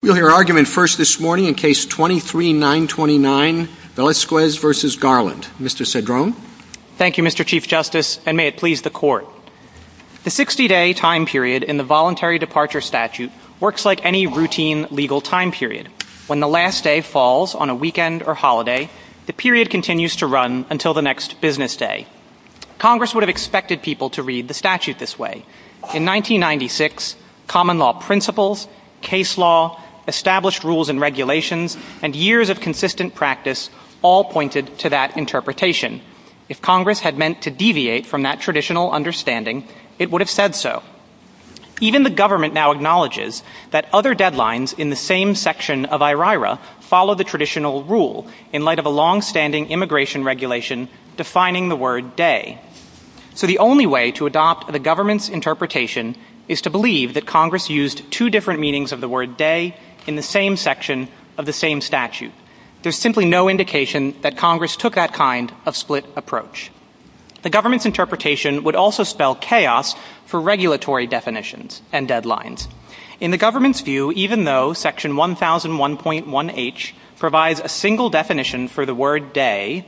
We'll hear argument first this morning in Case 23-929, Velazquez v. Garland. Mr. Cedrone. Thank you, Mr. Chief Justice, and may it please the Court. The 60-day time period in the Voluntary Departure Statute works like any routine legal time period. When the last day falls on a weekend or holiday, the period continues to run until the next business day. Congress would have expected people to read the statute this way. In 1996, common law principles, case law, established rules and regulations, and years of consistent practice all pointed to that interpretation. If Congress had meant to deviate from that traditional understanding, it would have said so. Even the government now acknowledges that other deadlines in the same section of IRIRA follow the traditional rule in light of a long-standing immigration regulation defining the word day. So the only way to stop the government's interpretation is to believe that Congress used two different meanings of the word day in the same section of the same statute. There's simply no indication that Congress took that kind of split approach. The government's interpretation would also spell chaos for regulatory definitions and deadlines. In the government's view, even though Section 1001.1H provides a single definition for the word day,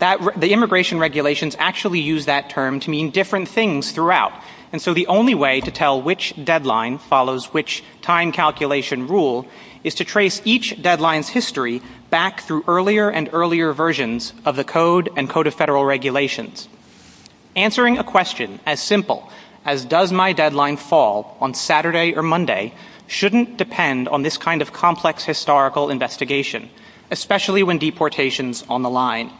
the immigration regulations actually use that term to mean different things throughout. And so the only way to tell which deadline follows which time calculation rule is to trace each deadline's history back through earlier and earlier versions of the Code and Code of Federal Regulations. Answering a question as simple as, does my deadline fall on Saturday or Monday, shouldn't depend on this kind of complex historical investigation, especially when deportation's on the line.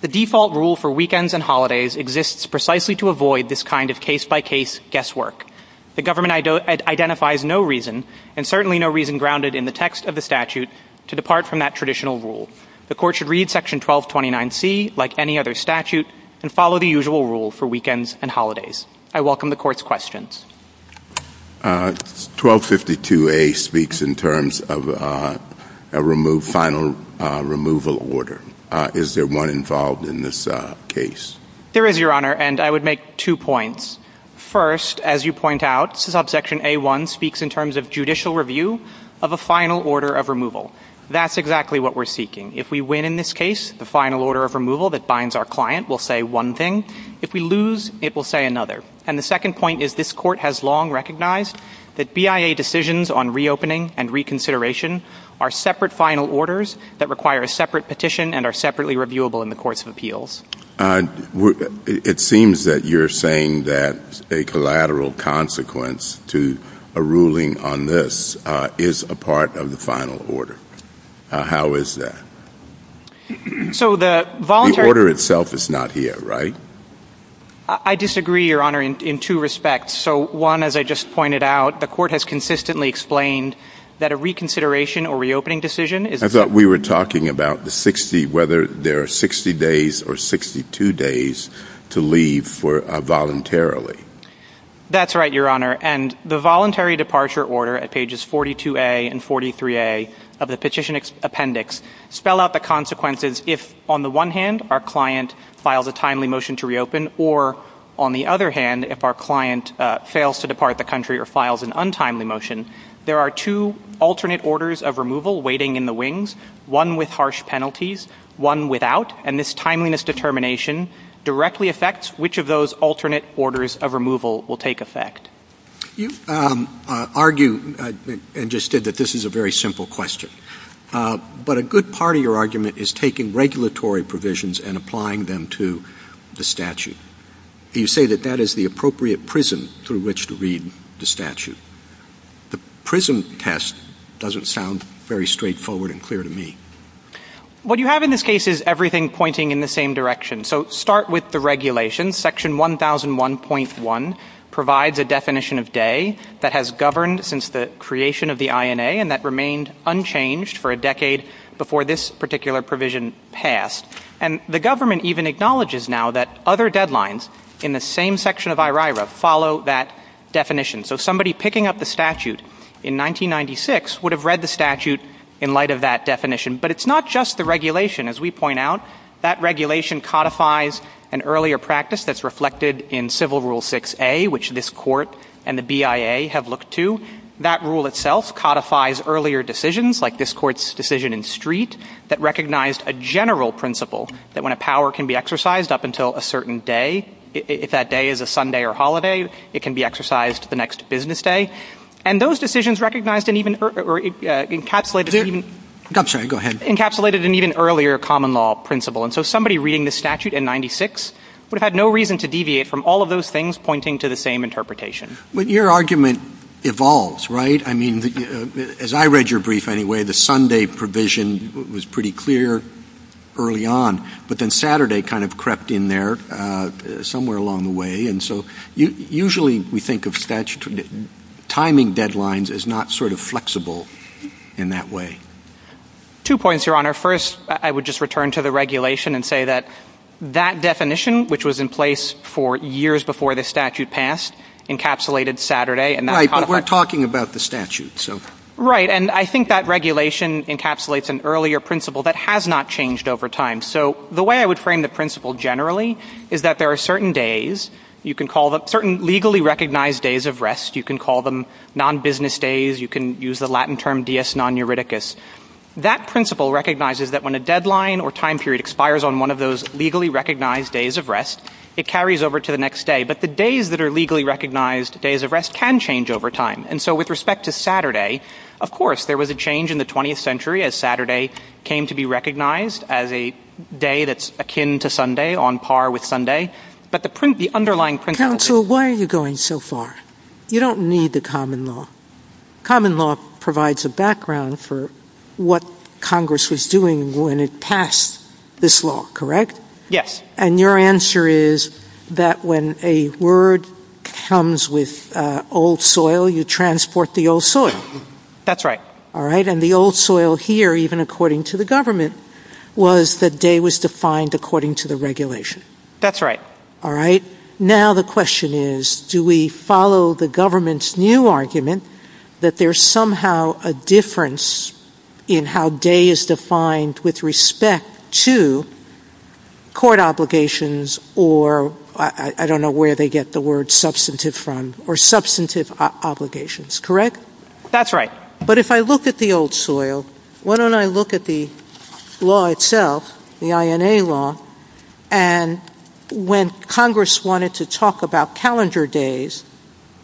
The default rule for weekends and holidays exists precisely to avoid this kind of case-by-case guesswork. The government identifies no reason, and certainly no reason grounded in the text of the statute, to depart from that traditional rule. The Court should read Section 1229C like any other statute and follow the usual rule for weekends and holidays. I welcome the Court's questions. 1252A speaks in terms of a final removal order. Is there one involved in this case? There is, Your Honor, and I would make two points. First, as you point out, subsection A1 speaks in terms of judicial review of a final order of removal. That's exactly what we're seeking. If we win in this case, the final order of removal that binds our client will say one thing. If we lose, it will say another. And the second point is this Court has long recognized that BIA decisions on reopening and reconsideration are separate final orders that require a separate petition and are separately reviewable in the Courts of Appeals. It seems that you're saying that a collateral consequence to a ruling on this is a part of the final order. How is that? So the voluntary The order itself is not here, right? I disagree, Your Honor, in two respects. So one, as I just pointed out, the Court has consistently explained that a reconsideration or reopening decision is I thought we were talking about the 60, whether there are 60 days or 62 days to leave voluntarily. That's right, Your Honor. And the voluntary departure order at pages 42A and 43A of the petition appendix spell out the consequences if, on the one hand, our client files a timely motion to reopen or, on the other hand, if our client fails to depart the country or files an untimely motion, there are two alternate orders of removal waiting in the wings, one with harsh penalties, one without. And this timeliness determination directly affects which of those alternate orders of removal will take effect. You argue and just said that this is a very simple question. But a good part of your argument is taking regulatory provisions and applying them to the statute. You say that that is the appropriate prism through which to read the statute. The prism test doesn't sound very straightforward and clear to me. What you have in this case is everything pointing in the same direction. So start with the regulations. Section 1001.1 provides a definition of day that has governed since the creation of the provision passed. And the government even acknowledges now that other deadlines in the same section of IRIRA follow that definition. So somebody picking up the statute in 1996 would have read the statute in light of that definition. But it's not just the regulation. As we point out, that regulation codifies an earlier practice that's reflected in Civil Rule 6A, which this Court and the BIA have looked to. That rule itself codifies earlier decisions like this Court's decision in Street that recognized a general principle that when a power can be exercised up until a certain day, if that day is a Sunday or holiday, it can be exercised the next business day. And those decisions recognized and even encapsulated an even earlier common law principle. So somebody reading the statute in 1996 would have had no reason to deviate from all of those things pointing to the same interpretation. But your argument evolves, right? I mean, as I read your brief anyway, the Sunday provision was pretty clear early on. But then Saturday kind of crept in there somewhere along the way. And so usually we think of timing deadlines as not sort of flexible in that way. Two points, Your Honor. First, I would just return to the regulation and say that that definition, which was in place for years before the statute passed, encapsulated Saturday and that codified — Right. But we're talking about the statute, so — Right. And I think that regulation encapsulates an earlier principle that has not changed over time. So the way I would frame the principle generally is that there are certain days, you can call them — certain legally recognized days of rest. You can call them non-business days. You can use the Latin term dies non-euridicus. That principle recognizes that when a deadline or time period expires on one of those legally recognized days of rest, it carries over to the next day. But the days that are legally recognized days of rest can change over time. And so with respect to Saturday, of course, there was a change in the 20th century as Saturday came to be recognized as a day that's akin to Sunday, on par with Sunday. But the underlying principle — Counsel, why are you going so far? You don't need the common law. Common law provides a background for what Congress was doing when it passed this law, correct? Yes. And your answer is that when a word comes with old soil, you transport the old soil. That's right. All right. And the old soil here, even according to the government, was the day was defined according to the regulation. That's right. All right. Now the question is, do we follow the government's new argument that there's somehow a difference in how day is defined with respect to court obligations or — I don't know where they get the word substantive from — or substantive obligations, correct? That's right. But if I look at the old soil, why don't I look at the law itself, the INA law, and when Congress wanted to talk about calendar days,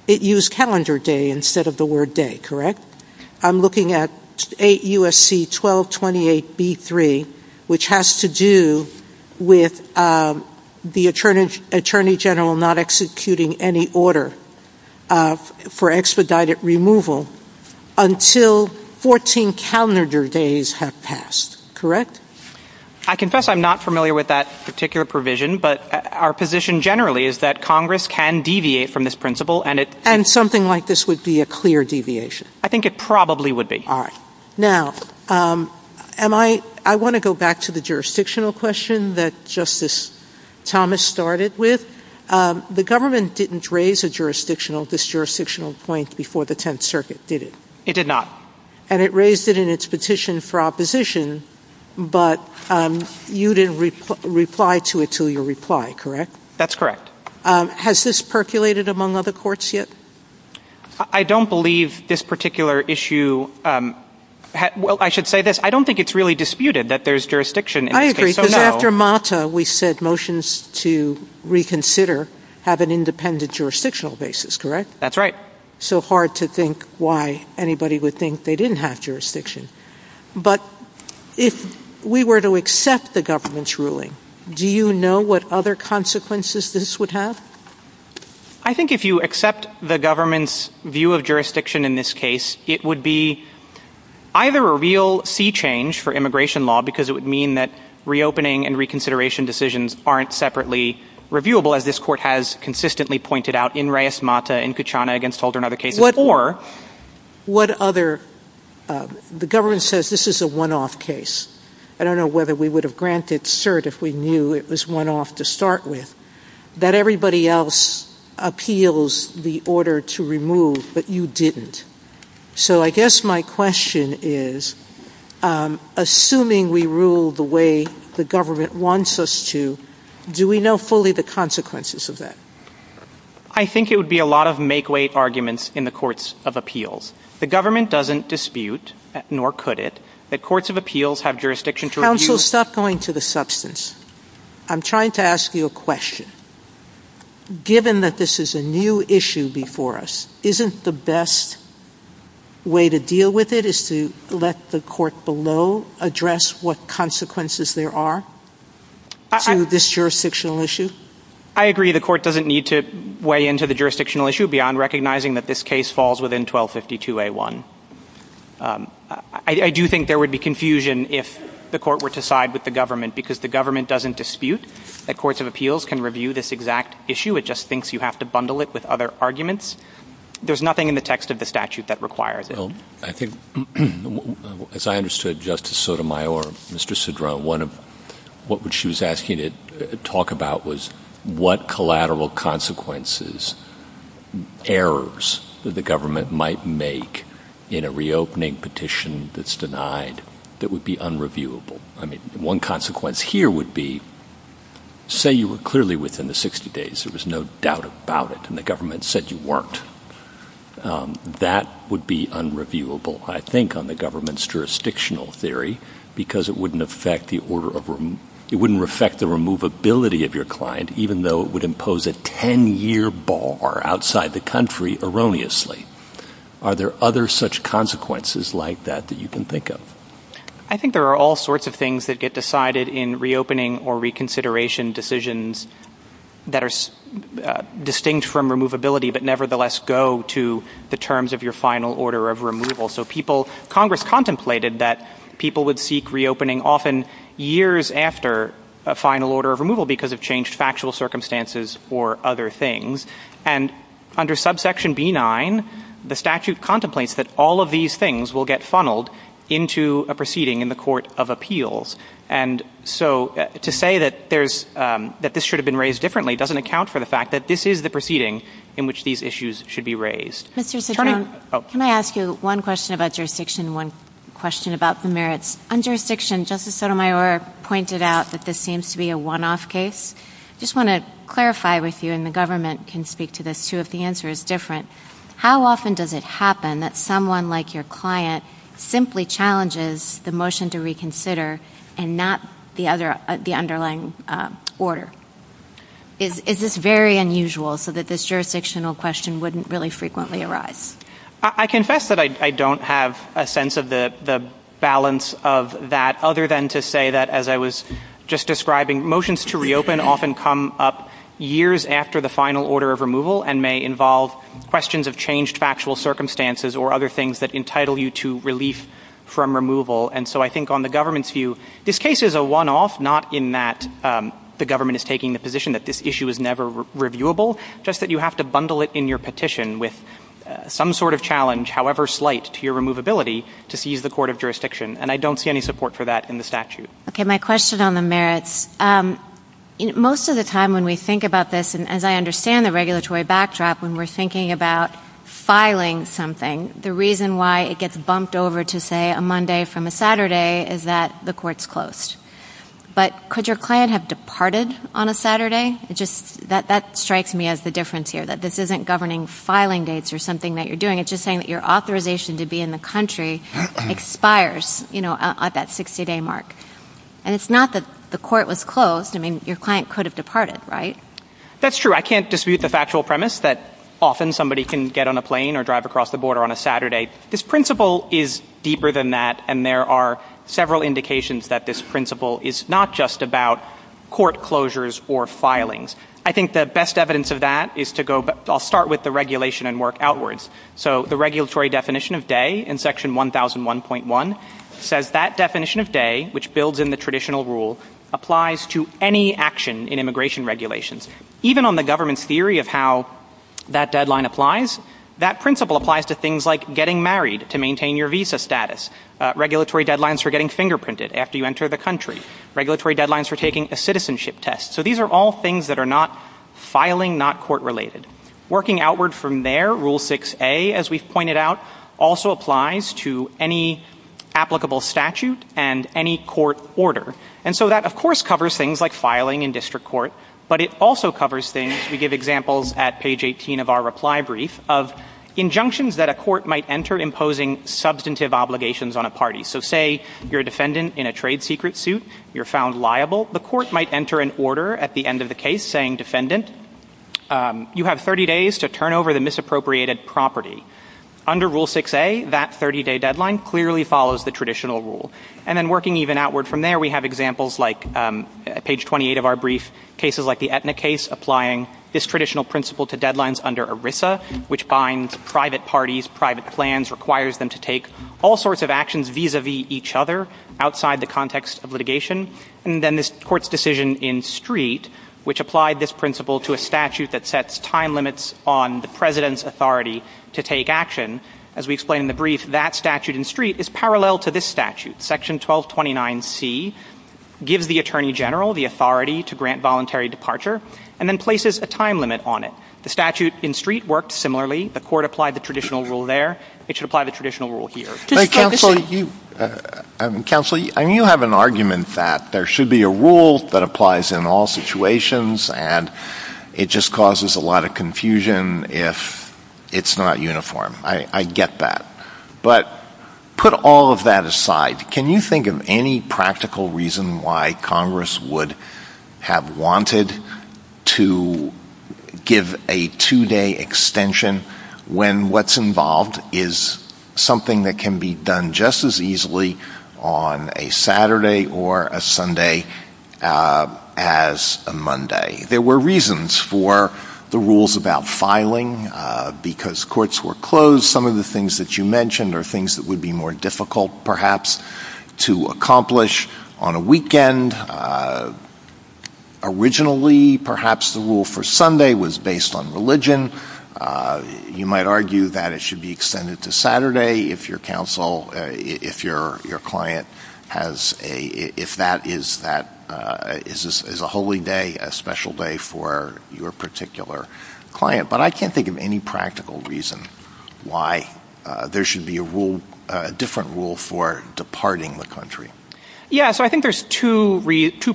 it used calendar day instead of the word day, correct? I'm looking at 8 U.S.C. 1228b3, which has to do with the attorney general not executing any order for expedited removal until 14 calendar days have passed, correct? I confess I'm not familiar with that particular provision, but our position generally is that Congress can deviate from this principle, and it — And something like this would be a clear deviation? I think it probably would be. All right. Now, am I — I want to go back to the jurisdictional question that Justice Thomas started with. The government didn't raise a jurisdictional — disjurisdictional point before the Tenth Circuit, did it? It did not. And it raised it in its petition for opposition, but you didn't reply to it till your reply, correct? That's correct. Has this percolated among other courts yet? I don't believe this particular issue — well, I should say this. I don't think it's really disputed that there's jurisdiction in this case. I agree, because after Mata, we said motions to reconsider have an independent jurisdictional basis, correct? That's right. So hard to think why anybody would think they didn't have jurisdiction. But if we were to accept the government's ruling, do you know what other consequences this would have? I think if you accept the government's view of jurisdiction in this case, it would be either a real sea change for immigration law, because it would mean that reopening and reconsideration decisions aren't separately reviewable, as this Court has consistently pointed out in Reyes-Mata, in Kuchana, against Holder, and other cases, or — What other — the government says this is a one-off case. I don't know whether we would have granted cert if we knew it was one-off to start with. That everybody else appeals the order to remove, but you didn't. So I guess my question is, assuming we rule the way the government wants us to, do we know fully the consequences of that? I think it would be a lot of make-weight arguments in the Courts of Appeals. The government doesn't dispute, nor could it, that Courts of Appeals have jurisdiction to review — Counsel, stop going to the substance. I'm trying to ask you a question. Given that this is a new issue before us, isn't the best way to deal with it is to let the Court below address what consequences there are to this jurisdictional issue? I agree. The Court doesn't need to weigh into the jurisdictional issue beyond recognizing that this case falls within 1252A1. I do think there would be confusion if the Court were to side with the government, because the government doesn't dispute that Courts of Appeals can review this exact issue. It just thinks you have to bundle it with other arguments. There's nothing in the text of the statute that requires it. I think, as I understood Justice Sotomayor, Mr. Cedrone, one of — what she was asking to talk about was what collateral consequences, errors, that the government might make in a reopening petition that's denied that would be unreviewable. I mean, one consequence here would be, say you were clearly within the 60 days, there was no doubt about it, and the government said you weren't. That would be unreviewable, I think, on the government's jurisdictional theory, because it wouldn't affect the order of — it wouldn't affect the removability of your client, even though it would impose a 10-year bar outside the country erroneously. Are there other such consequences like that that you can think of? I think there are all sorts of things that get decided in reopening or reconsideration decisions that are distinct from removability, but nevertheless go to the terms of your final order of removal. So people — Congress contemplated that people would seek reopening often years after a final order of removal because of changed factual circumstances or other things. And under subsection B-9, the statute contemplates that all of these things will get funneled into a proceeding in the court of appeals. And so to say that there's — that this should have been raised differently doesn't account for the fact that this is the proceeding in which these issues should be raised. Mr. Cedrone, can I ask you one question about jurisdiction, one question about the merits? On jurisdiction, Justice Sotomayor pointed out that this seems to be a one-off case. I just want to clarify with you — and the government can speak to this, too, if the answer is different — how often does it happen that someone like your client simply challenges the motion to reconsider and not the underlying order? Is this very unusual so that this jurisdictional question wouldn't really frequently arise? I confess that I don't have a sense of the balance of that, other than to say that, as I was just describing, motions to reopen often come up years after the final order of removal and may involve questions of changed factual circumstances or other things that entitle you to relief from removal. And so I think on the government's view, this case is a one-off, not in that the government is taking the position that this issue is never reviewable, just that you have to bundle it in your petition with some sort of challenge, however slight, to your removability to seize the court of jurisdiction. And I don't see any support for that in the statute. Okay, my question on the merits. Most of the time when we think about this, and as I understand the regulatory backdrop, when we're thinking about filing something, the reason why it is bumped over to, say, a Monday from a Saturday is that the court is closed. But could your client have departed on a Saturday? That strikes me as the difference here, that this isn't governing filing dates or something that you're doing. It's just saying that your authorization to be in the country expires at that 60-day mark. And it's not that the court was closed. Your client could have departed, right? That's true. I can't dispute the factual premise that often somebody can get on a plane or drive across the border on a Saturday. This principle is deeper than that, and there are several indications that this principle is not just about court closures or filings. I think the best evidence of that is to go, I'll start with the regulation and work outwards. So the regulatory definition of day in section 1001.1 says that definition of day, which builds in the traditional rule, applies to any action in immigration regulations. Even on the government's theory of how that deadline applies, that principle applies to things like getting married to maintain your visa status, regulatory deadlines for getting fingerprinted after you enter the country, regulatory deadlines for taking a citizenship test. So these are all things that are not filing, not court-related. Working outward from there, Rule 6A, as we've pointed out, also applies to any applicable statute and any court order. And so that, of course, covers things like filing in district court, but it also covers things, we give examples at page 18 of our reply brief, of injunctions that a court might enter imposing substantive obligations on a party. So say you're a defendant in a trade secret suit, you're found liable, the court might enter an order at the end of the case saying, defendant, you have 30 days to turn over the misappropriated property. Under Rule 6A, that 30-day deadline clearly follows the traditional rule. And then working even outward from there, we have examples like page 28 of our brief, cases like the Aetna case, applying this traditional principle to deadlines under ERISA, which binds private parties, private plans, requires them to take all sorts of actions vis-a-vis each other outside the context of litigation. And then this Court's decision in Street, which applied this principle to a statute that sets time limits on the President's authority to take action. As we explained in the brief, that statute in Street is parallel to this statute, Section 1229C, gives the Attorney General the authority to grant voluntary departure, and then places a time limit on it. The statute in Street worked similarly. The Court applied the traditional rule there. It should apply the traditional rule here. Just like this one. But, Counsel, you have an argument that there should be a rule that applies in all situations, and it just causes a lot of confusion if it's not uniform. I get that. But put all of that aside, can you think of any practical reason why Congress would have wanted to give a two-day extension when what's involved is something that can be done just as easily on a Saturday or a Sunday as a Monday? There were reasons for the rules about filing, because courts were closed. Some of the things that you mentioned are things that would be more difficult, perhaps, to accomplish on a weekend. Originally, perhaps, the rule for Sunday was based on religion. You might argue that it should be extended to Saturday if your counsel, if your client has a, if that is a holy day, a special day for your particular client. But I can't think of any practical reason why there should be a rule, a different rule for departing the country. Yeah. So I think there's two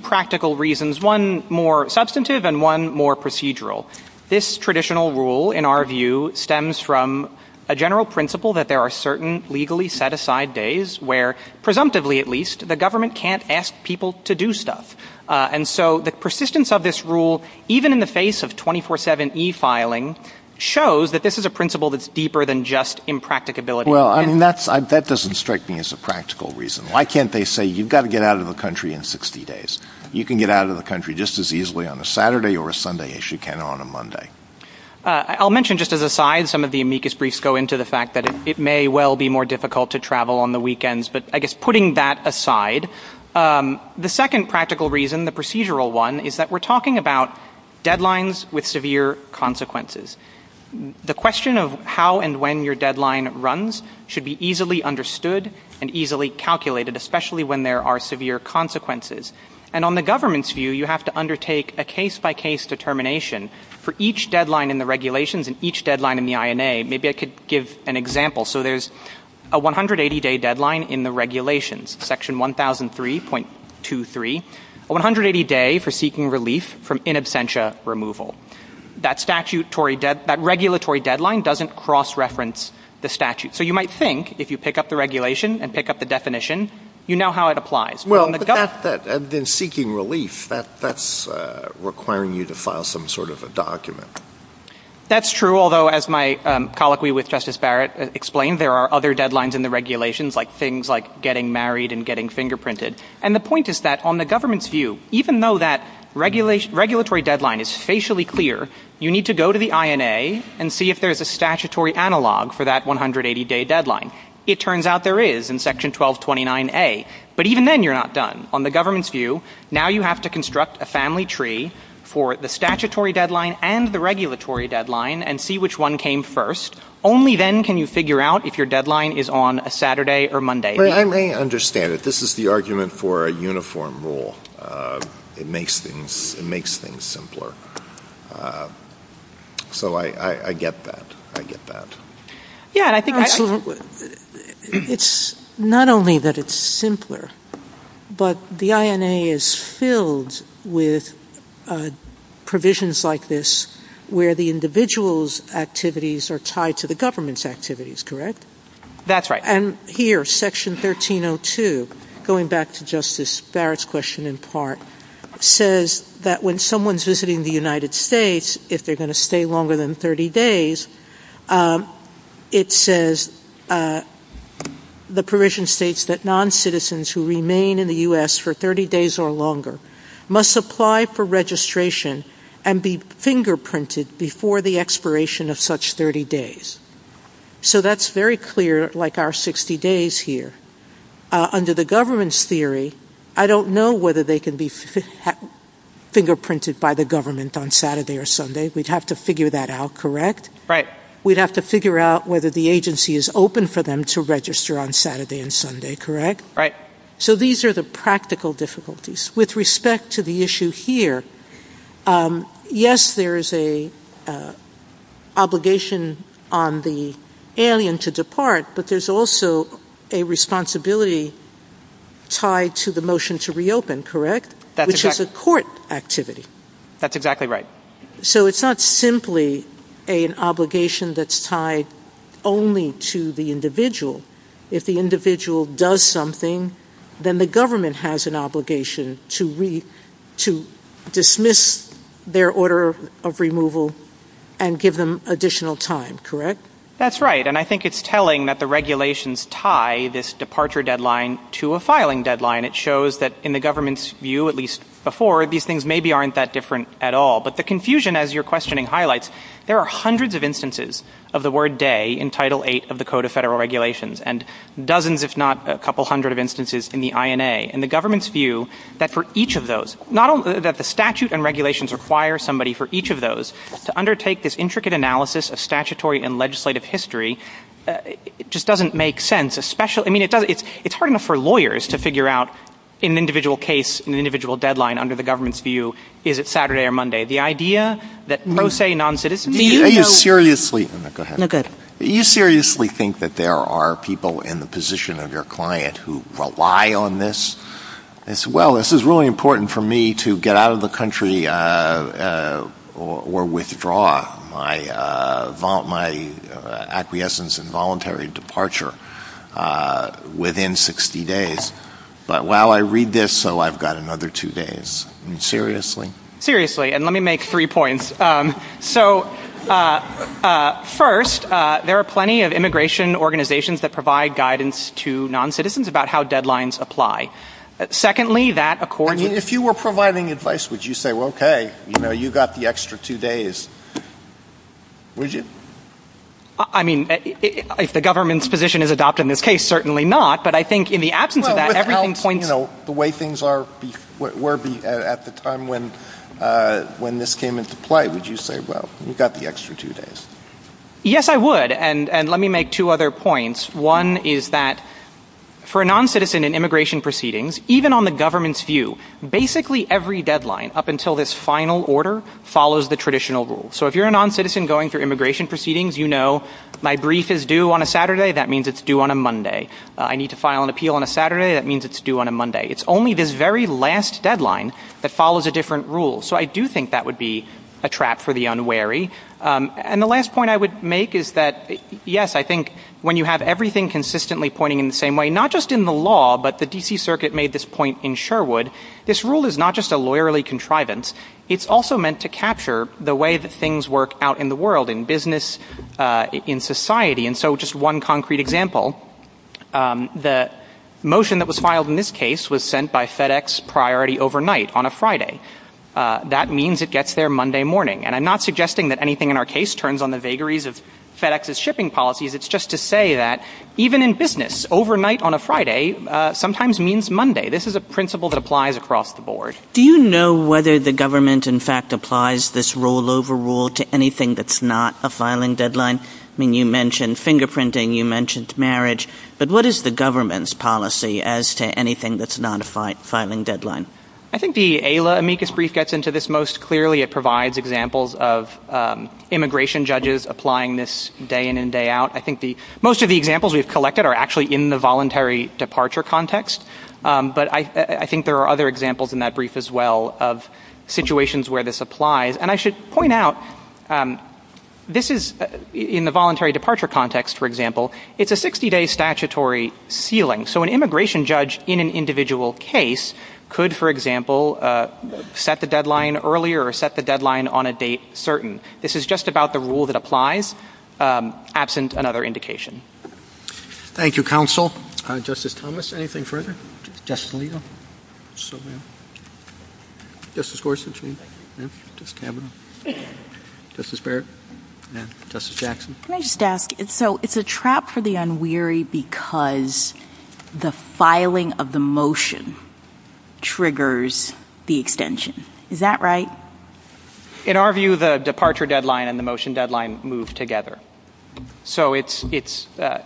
practical reasons, one more substantive and one more procedural. This traditional rule, in our view, stems from a general principle that there are certain legally set-aside days where, presumptively at least, the government can't ask people to do stuff. And so the persistence of this rule, even in the face of 24-7 e-filing, shows that this is a principle that's deeper than just impracticability. Well, I mean, that doesn't strike me as a practical reason. Why can't they say, you've got to get out of the country in 60 days? You can get out of the country just as easily on a Saturday or a Sunday as you can on a Monday. I'll mention just as an aside, some of the amicus briefs go into the fact that it may well be more difficult to travel on the weekends. But I guess putting that aside, the second practical reason, the procedural one, is that we're talking about deadlines with severe consequences. The question of how and when your deadline runs should be easily understood and easily calculated, especially when there are severe consequences. And on the government's view, you have to undertake a case-by-case determination for each deadline in the regulations and each deadline in the INA. Maybe I could give an example. So there's a 180-day deadline in the regulations, Section 1003.23, a 180-day for seeking relief from in absentia removal. That regulatory deadline doesn't cross-reference the statute. So you might think, if you pick up the regulation and pick up the definition, you know how it applies. Well, but then seeking relief, that's requiring you to file some sort of a document. That's true, although as my colloquy with Justice Barrett explained, there are other deadlines in the regulations, like things like getting married and getting fingerprinted. And the point is that on the government's view, even though that regulatory deadline is facially clear, you need to go to the INA and see if there's a statutory analog for that 180-day deadline. It turns out there is in Section 1229A. But even then, you're not done. On the government's view, now you have to construct a family tree for the statutory deadline and the regulatory deadline and see which one came first. Only then can you figure out if your deadline is on a Saturday or Monday. I may understand it. This is the argument for a uniform rule. It makes things simpler. So I get that. I get that. Yeah, and I think it's not only that it's simpler, but the INA is filled with provisions like this where the individual's activities are tied to the government's activities, correct? That's right. And here, Section 1302, going back to Justice Barrett's question in part, says that when someone's visiting the United States, if they're going to stay longer than 30 days, it says the provision states that noncitizens who remain in the U.S. for 30 days or longer must apply for registration and be fingerprinted before the expiration of such 30 days. So that's very clear, like our 60 days here. Under the government's theory, I don't know whether they can be fingerprinted by the government on Saturday or Sunday. We'd have to figure that out, correct? Right. We'd have to figure out whether the agency is open for them to register on Saturday and Sunday, correct? Right. So these are the practical difficulties. With respect to the issue here, yes, there is an obligation on the alien to depart, but there's also a responsibility tied to the motion to reopen, correct? Which is a court activity. That's exactly right. So it's not simply an obligation that's tied only to the individual. If the individual does something, then the government has an obligation to dismiss their order of removal and give them additional time, correct? That's right. And I think it's telling that the regulations tie this departure deadline to a filing deadline. It shows that in the government's view, at least before, these things maybe aren't that different at all. But the confusion, as your questioning highlights, there are hundreds of instances of the word day in Title VIII of the Code of Federal Regulations and dozens, if not a couple hundred, of instances in the INA. And the government's view that for each of those, not only that the statute and regulations require somebody for each of those to undertake this intricate analysis of statutory and legislative history, it just doesn't make sense. I mean, it's hard enough for lawyers to figure out in an individual case, in an individual deadline, under the government's view, is it Saturday or Monday? The idea that pro se, non-citizen, do you know? Do you seriously think that there are people in the position of your client who rely on this? Well, this is really important for me to get out of the country or withdraw my acquiescence and voluntary departure within 60 days. But while I read this, so I've got another two days. I mean, seriously? Seriously. And let me make three points. So, first, there are plenty of immigration organizations that provide guidance to non-citizens about how deadlines apply. Secondly, that accords with the — I mean, if you were providing advice, would you say, well, okay, you know, you got the extra two days? Would you? I mean, if the government's position is adopted in this case, certainly not. But I think in the absence of that, everything points — Well, without, you know, the way things are, at the time when this came into play, would you say, well, you got the extra two days? Yes, I would. And let me make two other points. One is that for a non-citizen in immigration proceedings, even on the government's view, basically every deadline up until this final order follows the traditional rule. So if you're a non-citizen going through immigration proceedings, you know, my brief is due on a Saturday, that means it's due on a Monday. I need to file an appeal on a Saturday, that means it's due on a Monday. It's only this very last deadline that follows a different rule. So I do think that would be a trap for the unwary. And the last point I would make is that, yes, I think when you have everything consistently pointing in the same way, not just in the law, but the D.C. Circuit made this point in Sherwood, this rule is not just a lawyerly contrivance, it's also meant to capture the way that things work out in the world, in business, in society. And so just one concrete example, the motion that was filed in this case was sent by FedEx priority overnight, on a Friday. That means it gets there Monday morning. And I'm not suggesting that anything in our case turns on the vagaries of FedEx's shipping policies, it's just to say that even in business, overnight on a Friday sometimes means Monday. This is a principle that applies across the board. Do you know whether the government, in fact, applies this rollover rule to anything that's not a filing deadline? I mean, you mentioned fingerprinting, you mentioned marriage, but what is the government's policy as to anything that's not a filing deadline? I think the AILA amicus brief gets into this most clearly. It provides examples of immigration judges applying this day in and day out. I think most of the examples we've collected are actually in the voluntary departure context, but I think there are other examples in that brief as well of situations where this applies. And I should point out, this is, in the voluntary departure context, for example, it's a 60-day statutory ceiling. So an immigration judge in an individual case could, for example, set the deadline earlier or set the deadline on a date certain. This is just about the rule that applies, absent another indication. Thank you, counsel. Justice Thomas, anything further? Justice Alito? Justice Gorsuch? Justice Kavanaugh? Justice Barrett? Justice Jackson? Can I just ask, so it's a trap for the unwary because the filing of the motion triggers the extension. Is that right? In our view, the departure deadline and the motion deadline move together. So it's the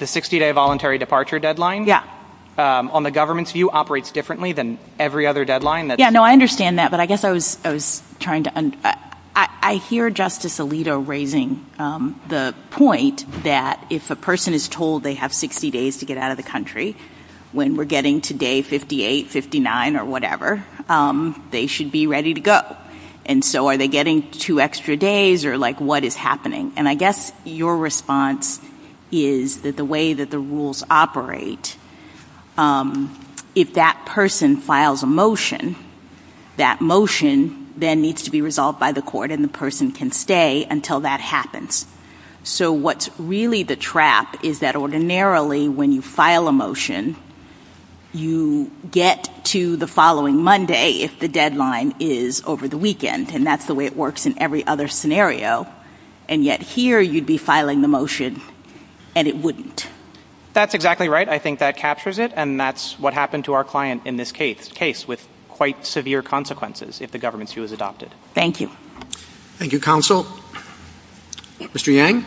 60-day voluntary departure deadline? Yeah. On the government's view, operates differently than every other deadline? Yeah, no, I understand that, but I guess I was trying to, I hear Justice Alito raising the point that if a person is told they have 60 days to get out of the country, when we're getting to day 58, 59, or whatever, they should be ready to go. And so are they getting two extra days or, like, what is happening? And I guess your response is that the way that the rules operate, if that person files a motion, that motion then needs to be resolved by the court and the person can stay until that happens. So what's really the trap is that ordinarily when you file a motion, you get to the following Monday if the deadline is over the weekend, and that's the way it works in every other scenario, and yet here you'd be filing the motion and it wouldn't. That's exactly right. I think that captures it, and that's what happened to our client in this case, with quite severe consequences if the government's view is adopted. Thank you. Thank you, counsel. Mr. Yang.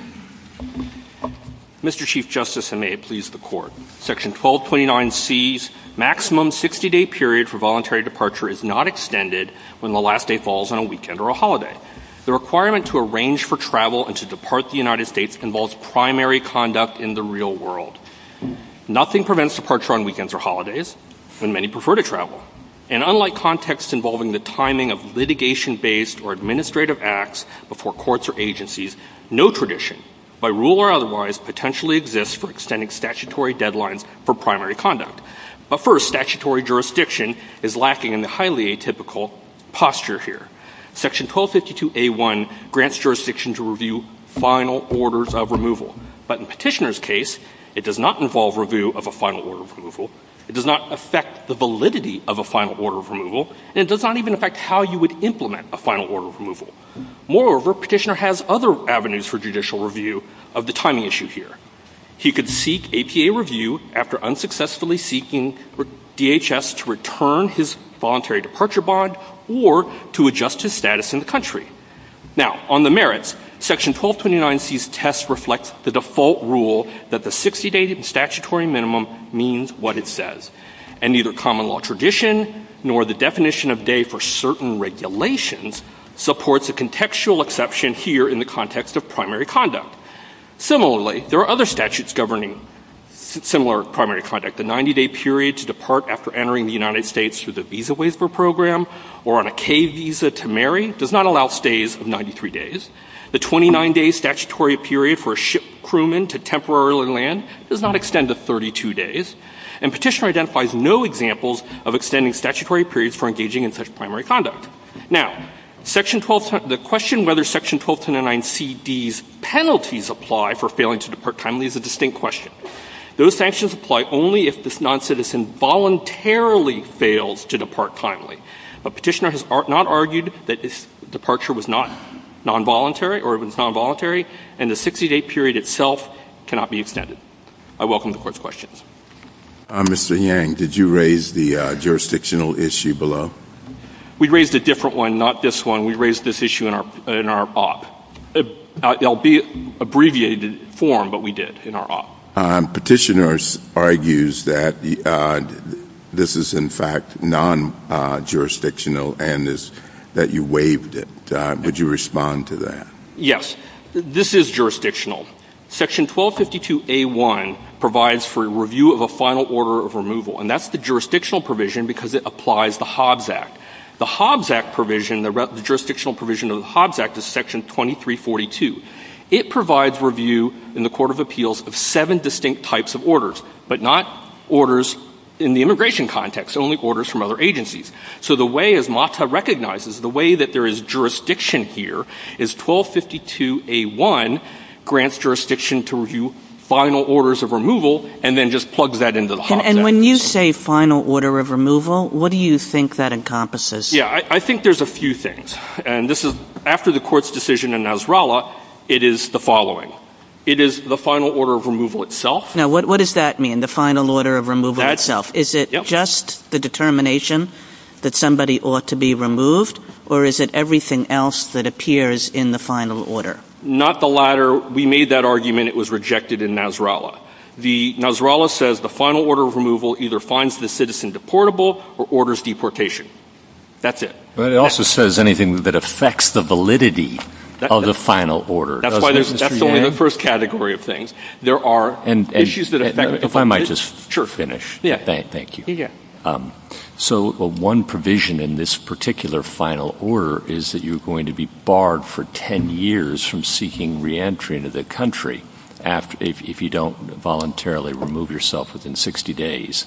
Mr. Chief Justice, and may it please the Court, Section 1229C's maximum 60-day period for voluntary departure is not extended when the last day falls on a weekend or a holiday. The requirement to arrange for travel and to depart the United States involves primary conduct in the real world. Nothing prevents departure on weekends or holidays, when many prefer to travel. And unlike contexts involving the timing of litigation-based or administrative acts before courts or agencies, no tradition, by rule or otherwise, potentially exists for extending statutory deadlines for primary conduct. But first, statutory jurisdiction is lacking in the highly atypical posture here. Section 1252A1 grants jurisdiction to review final orders of removal, but in Petitioner's case, it does not involve review of a final order of removal, it does not affect the validity of a final order of removal, and it does not even affect how you would implement a final order of removal. Moreover, Petitioner has other avenues for judicial review of the timing issue here. He could seek APA review after unsuccessfully seeking DHS to return his voluntary departure bond or to adjust his status in the country. Now, on the merits, Section 1229C's test reflects the default rule that the 60-day statutory minimum means what it says. And neither common law tradition nor the definition of day for certain regulations supports a contextual exception here in the context of primary conduct. Similarly, there are other statutes governing similar primary conduct. The 90-day period to depart after entering the United States through the Visa Waiver Program or on a K Visa to marry does not allow days of 93 days. The 29-day statutory period for a ship crewman to temporarily land does not extend to 32 days. And Petitioner identifies no examples of extending statutory periods for engaging in such primary conduct. Now, the question whether Section 1229CD's penalties apply for failing to depart timely is a distinct question. Those sanctions apply only if this noncitizen voluntarily fails to depart timely. But Petitioner has not argued that departure was not nonvoluntary or was nonvoluntary and the 60-day period itself cannot be extended. I welcome the Court's questions. Mr. Yang, did you raise the jurisdictional issue below? We raised a different one, not this one. We raised this issue in our op. It will be abbreviated form, but we did, in our op. Petitioner argues that this is in fact non-jurisdictional and that you waived it. Would you respond to that? Yes. This is jurisdictional. Section 1252A1 provides for a review of a final order of removal. And that's the jurisdictional provision because it applies the Hobbs Act. The Hobbs Act provision, the jurisdictional provision of the Hobbs Act is Section 2342. It provides review in the Court of Appeals of seven distinct types of orders, but not orders in the immigration context, only orders from other agencies. So the way, as MATA recognizes, the way that there is jurisdiction here is 1252A1 grants jurisdiction to review final orders of removal and then just plugs that into the Hobbs Act. And when you say final order of removal, what do you think that encompasses? Yeah, I think there's a few things. And this is, after the Court's decision in Nasrallah, it is the following. It is the final order of removal itself. Now, what does that mean, the final order of removal itself? Is it just the determination that somebody ought to be removed, or is it everything else that appears in the final order? Not the latter. We made that argument. It was rejected in Nasrallah. Nasrallah says the final order of removal either finds the citizen deportable or orders deportation. That's it. But it also says anything that affects the validity of the final order. That's why there's – that's only the first category of things. There are issues that affect – If I might just finish. Thank you. Yeah. So one provision in this particular final order is that you're going to be barred for 10 years from seeking reentry into the country if you don't voluntarily remove yourself within 60 days.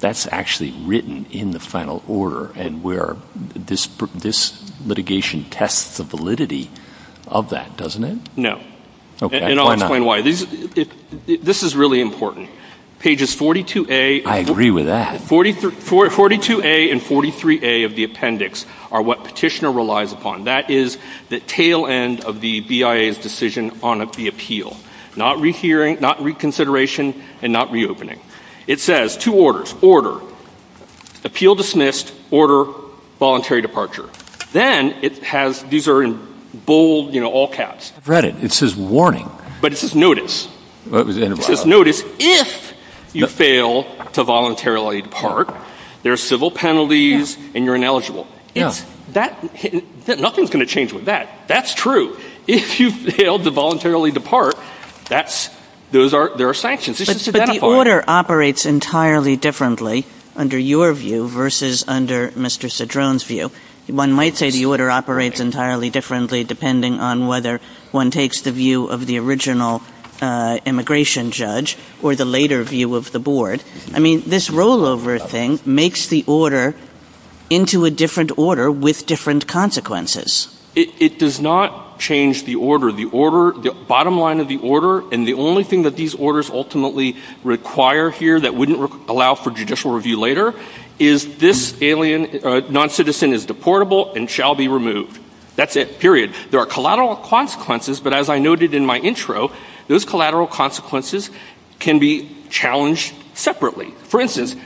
That's actually written in the final order, and where this litigation tests the validity of that, doesn't it? No. Okay. And I'll explain why. This is really important. Pages 42A – I agree with that. 42A and 43A of the appendix are what Petitioner relies upon. That is the tail end of the BIA's decision on the appeal. Not reconsideration and not reopening. It says two orders. Order. Appeal dismissed. Order voluntary departure. Then it has – these are in bold, you know, all caps. I've read it. It says warning. But it says notice. It says notice if you fail to voluntarily depart, there are civil penalties and you're ineligible. Yeah. And that's – nothing's going to change with that. That's true. If you fail to voluntarily depart, that's – those are – there are sanctions. But the order operates entirely differently under your view versus under Mr. Cedrone's view. One might say the order operates entirely differently depending on whether one takes the view of the original immigration judge or the later view of the board. I mean, this makes the order into a different order with different consequences. It does not change the order. The order – the bottom line of the order and the only thing that these orders ultimately require here that wouldn't allow for judicial review later is this alien noncitizen is deportable and shall be removed. That's it. Period. There are collateral consequences, but as I noted in my intro, those collateral consequences can be challenged separately. For instance,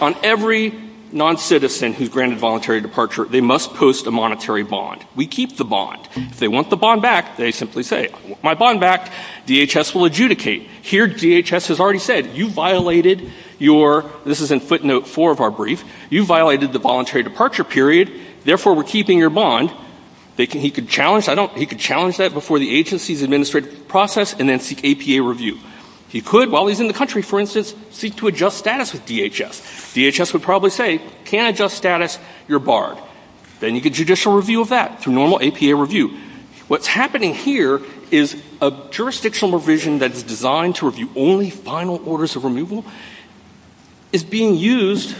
on every noncitizen who's granted voluntary departure, they must post a monetary bond. We keep the bond. If they want the bond back, they simply say, I want my bond back. DHS will adjudicate. Here DHS has already said, you violated your – this is in footnote four of our brief – you violated the voluntary departure period, therefore we're keeping your bond. He could challenge that before the agency's administrative process and then seek APA review. He could, while he's in the country, for instance, seek to adjust status with DHS. DHS would probably say, can't adjust status, you're barred. Then you get judicial review of that through normal APA review. What's happening here is a jurisdictional revision that is designed to review only final orders of removal is being used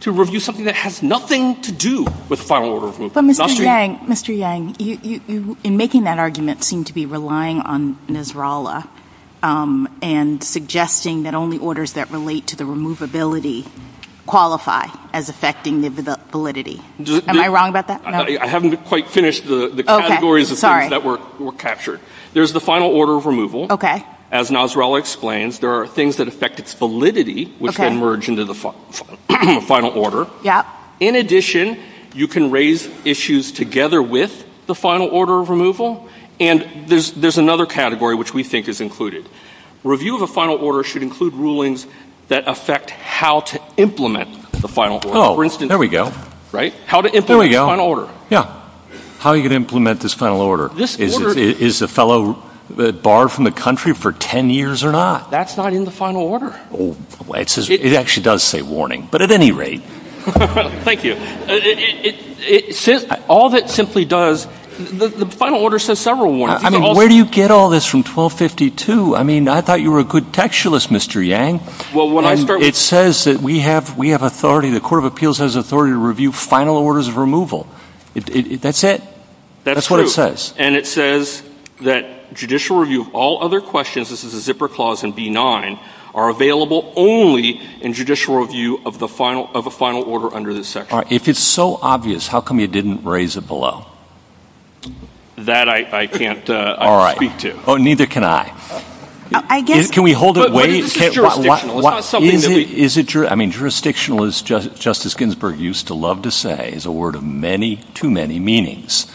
to review something that has nothing to do with final order of removal. But Mr. Yang, Mr. Yang, you, in making that argument, seem to be relying on Nasrallah and suggesting that only orders that relate to the removability qualify as affecting the validity. Am I wrong about that? I haven't quite finished the categories of things that were captured. There's the final order of removal. As Nasrallah explains, there are things that affect its validity, which can merge into the final order. In addition, you can raise issues together with the final order of removal. And there's another category which we think is included. Review of a final order should include rulings that affect how to implement the final order. Oh, there we go. Right? How to implement the final order. There we go. Yeah. How are you going to implement this final order? Is the fellow barred from the country for 10 years or not? That's not in the final order. It actually does say warning, but at any rate. Thank you. It says all that simply does, the final order says several warnings. I mean, where do you get all this from 1252? I mean, I thought you were a good textualist, Mr. Yang. Well, when I start with you. It says that we have authority, the Court of Appeals has authority to review final orders of removal. That's it. That's what it says. That's true. And it says that judicial review of all other questions, this is a zipper clause in B-9, are available only in judicial review of the final, of a final order under this section. All right. If it's so obvious, how come you didn't raise it below? That I can't speak to. All right. Oh, neither can I. I guess. Can we hold it? But this is jurisdictional. It's not something that we. Is it? I mean, jurisdictional is just, Justice Ginsburg used to love to say is a word of many, too many meanings.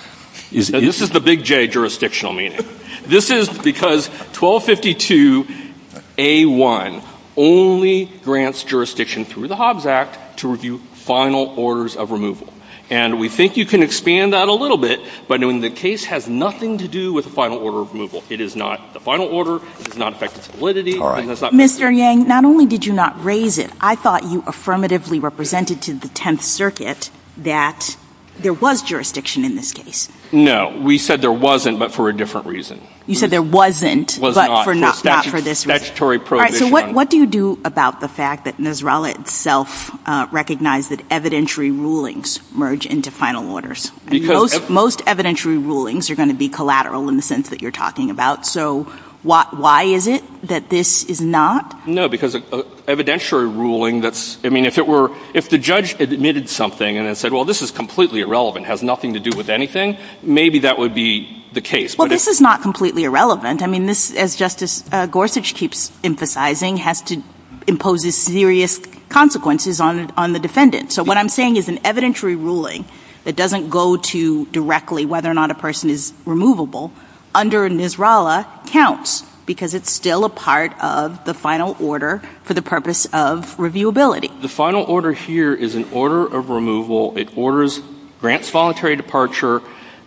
This is the big J jurisdictional meaning. This is because 1252A1 only grants jurisdiction through the Hobbs Act to review final orders of removal. And we think you can expand that a little bit, but the case has nothing to do with the final order of removal. It is not the final order. It does not affect its validity. All right. Mr. Yang, not only did you not raise it, I thought you affirmatively represented to the Tenth Circuit that there was jurisdiction in this case. No. We said there wasn't, but for a different reason. You said there wasn't, but for not, not for this reason. Statutory prohibition. All right. So what do you do about the fact that Nasrallah itself recognized that evidentiary rulings merge into final orders? Most evidentiary rulings are going to be collateral in the sense that you're talking about. So why is it that this is not? No, because evidentiary ruling that's, I mean, if it were, if the judge admitted something and then said, well, this is completely irrelevant, has nothing to do with anything, maybe that would be the case. Well, this is not completely irrelevant. I mean, this, as Justice Gorsuch keeps emphasizing, has to impose serious consequences on the defendant. So what I'm saying is an evidentiary ruling that doesn't go to directly whether or not a person is removable under Nasrallah counts, because it's still a part of the final order for the purpose of reviewability. The final order here is an order of removal. It orders Grant's voluntary departure.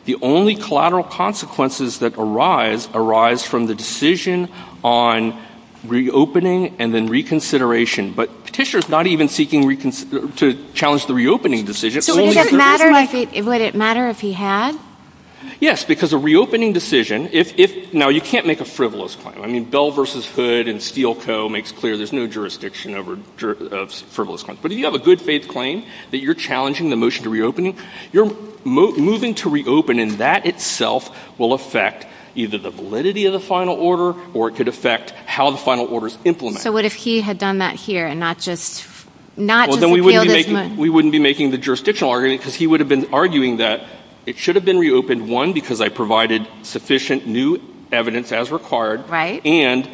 The only collateral consequences that arise arise from the decision on reopening and then reconsideration. But Petitioner's not even seeking to challenge the reopening decision. So would it matter if he had? Yes, because a reopening decision, if, now you can't make a frivolous claim. I mean, Bell v. Hood and Steele Co. makes clear there's no jurisdiction over frivolous claims. But if you have a good faith claim that you're challenging the motion to reopen, you're moving to reopen and that itself will affect either the validity of the final order or it could affect how the final order is implemented. So what if he had done that here and not just, not just appealed his motion? We wouldn't be making the jurisdictional argument because he would have been arguing that it should have been reopened, one, because I provided sufficient new evidence as required and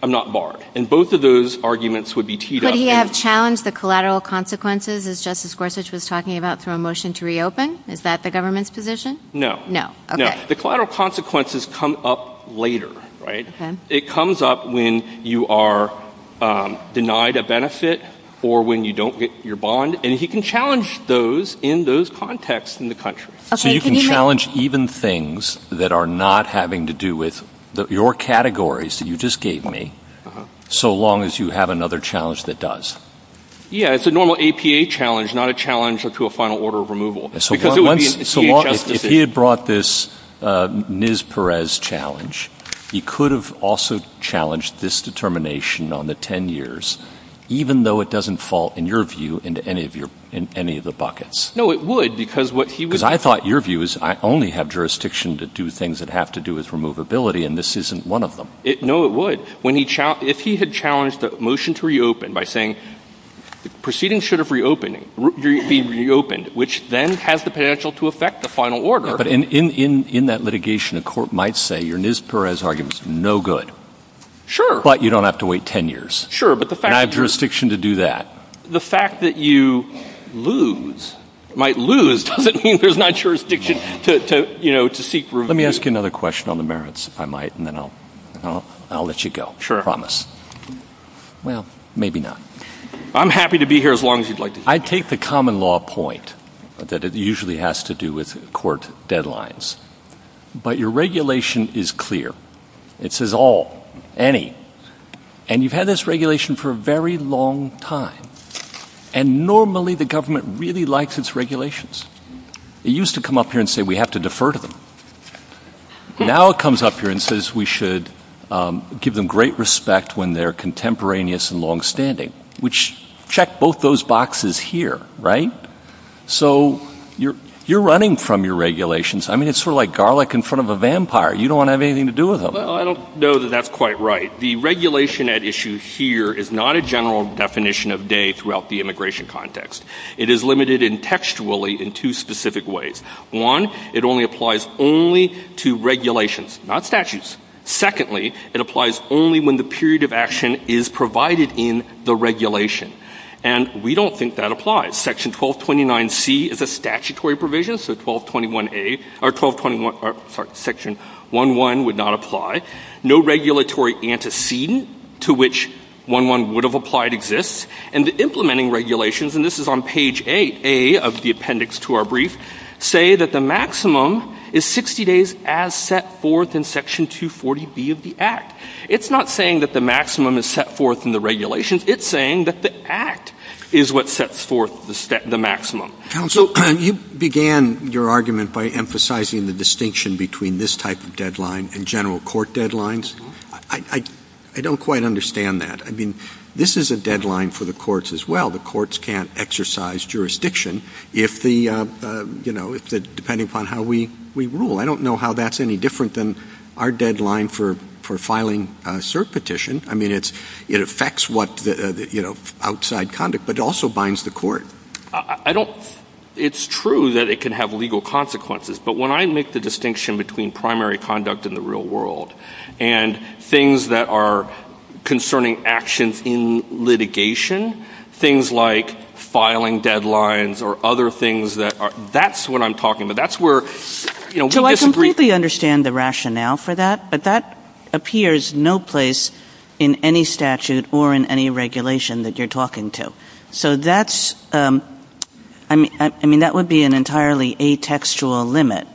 I'm not barred. And both of those arguments would be teed up. Could he have challenged the collateral consequences as Justice Gorsuch was talking about through a motion to reopen? Is that the government's position? No. No. Okay. The collateral consequences come up later, right? It comes up when you are denied a benefit or when you don't get your bond. And he can challenge those in those contexts in the country. So you can challenge even things that are not having to do with your categories that you just gave me, so long as you have another challenge that does? Yeah. It's a normal APA challenge, not a challenge to a final order of removal. Because it would be a DHS decision. So if he had brought this NIS-Perez challenge, he could have also challenged this determination on the 10 years, even though it doesn't fall, in your view, into any of your, any of the No, it would because what he would have taught your view is I only have jurisdiction to do things that have to do with removability and this isn't one of them. No, it would. When he challenged, if he had challenged the motion to reopen by saying the proceeding should have reopened, be reopened, which then has the potential to affect the final order Yeah, but in that litigation, a court might say your NIS-Perez argument is no good. Sure. But you don't have to wait 10 years. Sure, but the fact And I have jurisdiction to do that. The fact that you lose, might lose, doesn't mean there's not jurisdiction to, you know, to seek review. Let me ask you another question on the merits, if I might, and then I'll, I'll, I'll let you go. Sure. I promise. Well, maybe not. I'm happy to be here as long as you'd like to keep me. I take the common law point that it usually has to do with court deadlines, but your regulation is clear. It says all, any. And you've had this regulation for a very long time. And normally the government really likes its regulations. It used to come up here and say, we have to defer to them. Now it comes up here and says we should give them great respect when they're contemporaneous and longstanding, which check both those boxes here, right? So you're, you're running from your regulations. I mean, it's sort of like garlic in front of a vampire. You don't want to have anything to do with them. Well, I don't know that that's quite right. The regulation at issue here is not a general definition of day throughout the immigration context. It is limited in textually in two specific ways. One, it only applies only to regulations, not statutes. Secondly, it applies only when the period of action is provided in the regulation. And we don't think that applies. Section 1229C is a statutory provision. So 1221A, or 1221, sorry, Section 1.1 would not apply. No regulatory antecedent to which 1.1 would have applied exists. And the implementing regulations, and this is on page 8A of the appendix to our brief, say that the maximum is 60 days as set forth in Section 240B of the Act. It's not saying that the maximum is set forth in the regulations. It's saying that the Act is what sets forth the maximum. Counsel, you began your argument by emphasizing the distinction between this type of deadline and general court deadlines. I don't quite understand that. I mean, this is a deadline for the courts as well. The courts can't exercise jurisdiction if the, you know, if the, depending upon how we rule. I don't know how that's any different than our deadline for filing a cert petition. I mean, it affects what, you know, outside conduct, but it also binds the court. I don't, it's true that it can have legal consequences, but when I make the distinction between primary conduct in the real world and things that are concerning actions in litigation, things like filing deadlines or other things that are, that's what I'm talking about. That's where, you know, we disagree. So I completely understand the rationale for that, but that appears no place in any statute or in any regulation that you're talking to. So that's, I mean, I mean, that would be an entirely atextual limit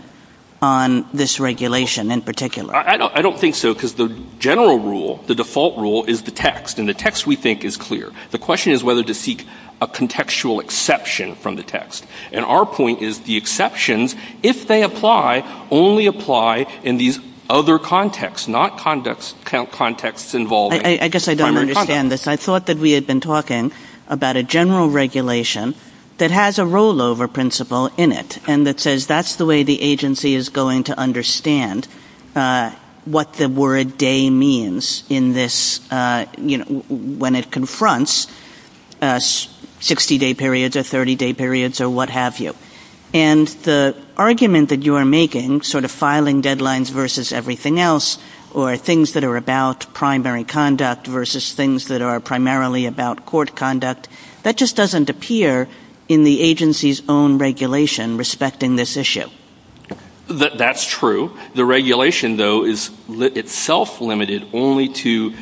on this regulation in particular. I don't, I don't think so because the general rule, the default rule is the text and the text we think is clear. The question is whether to seek a contextual exception from the text. And our point is the exceptions, if they apply, only apply in these other contexts, not conducts, contexts involving primary conduct. I guess I don't understand this. I thought that we had been talking about a general regulation that has a rollover principle in it and that says that's the way the agency is going to understand what the word day means in this, you know, when it confronts 60 day periods or 30 day periods or what have you. And the argument that you are making sort of filing deadlines versus everything else or things that are about primary conduct versus things that are primarily about court conduct, that just doesn't appear in the agency's own regulation respecting this issue. That's true. The regulation though is itself limited only to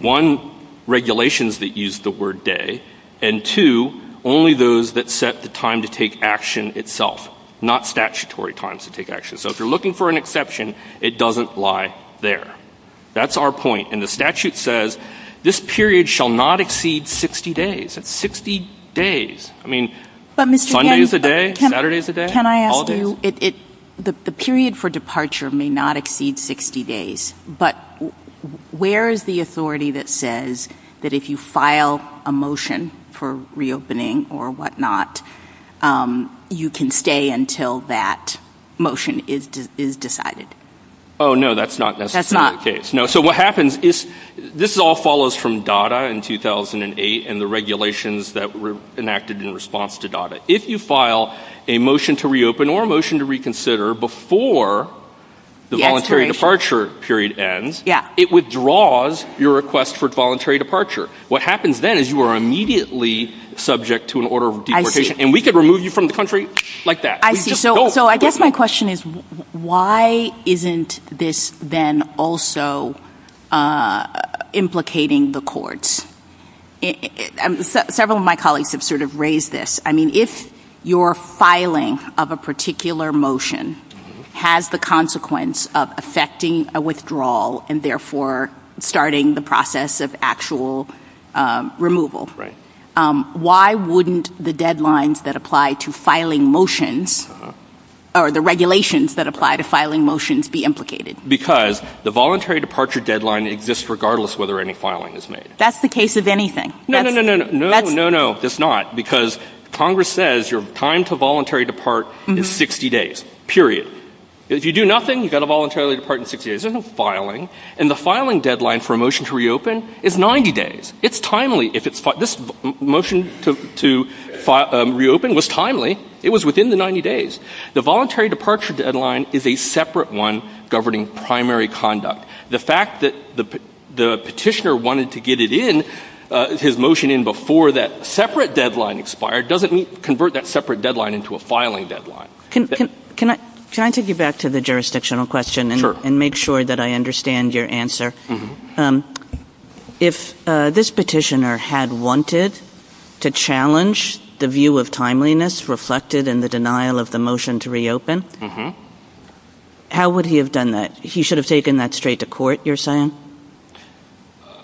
one, regulations that use the word day and two, only those that set the time to take action itself, not statutory times to take action. So if you're looking for an exception, it doesn't lie there. That's our point. And the statute says this period shall not exceed 60 days. That's 60 days. I mean, Sunday is a day, Saturday is a day. Can I ask you, the period for departure may not exceed 60 days, but where is the authority that says that if you file a motion for reopening or whatnot, you can stay until that motion is decided? Oh, no, that's not necessarily the case. So what happens is, this all follows from DADA in 2008 and the regulations that were enacted in response to DADA. If you file a motion to reopen or a motion to reconsider before the voluntary departure period ends, it withdraws your request for voluntary departure. What happens then is you are immediately subject to an order of deportation and we could remove you from the country like that. I see. So I guess my question is, why isn't this then also implicating the courts? Several of my colleagues have sort of raised this. I mean, if your filing of a particular motion has the consequence of affecting a withdrawal and therefore starting the process of actual removal, why wouldn't the deadlines that apply to filing motions or the regulations that apply to filing motions be implicated? Because the voluntary departure deadline exists regardless whether any filing is made. That's the case of anything. No, no, no, no, no, no, no, no, no, that's not. Because Congress says your time to voluntary depart is 60 days, period. If you do nothing, you've got to voluntarily depart in 60 days. There's no filing. And the filing deadline for a motion to reopen is 90 days. It's timely if it's filed. This motion to reopen was timely. It was within the 90 days. The voluntary departure deadline is a separate one governing primary conduct. The fact that the petitioner wanted to get it in, his motion in before that separate deadline expired, doesn't convert that separate deadline into a filing deadline. Can I take you back to the jurisdictional question and make sure that I understand your answer? If this petitioner had wanted to challenge the view of timeliness reflected in the denial of the motion to reopen, how would he have done that? He should have taken that straight to court, you're saying?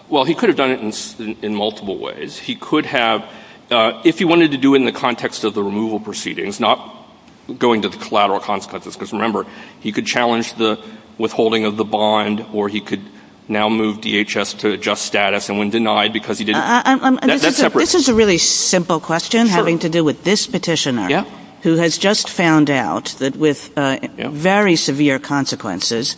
Well, he could have done it in multiple ways. He could have, if he wanted to do it in the context of the removal proceedings, not going to the collateral consequences, because remember, he could challenge the withholding of the bond, or he could now move DHS to adjust status and when denied because he didn't This is a really simple question having to do with this petitioner who has just found out that with very severe consequences,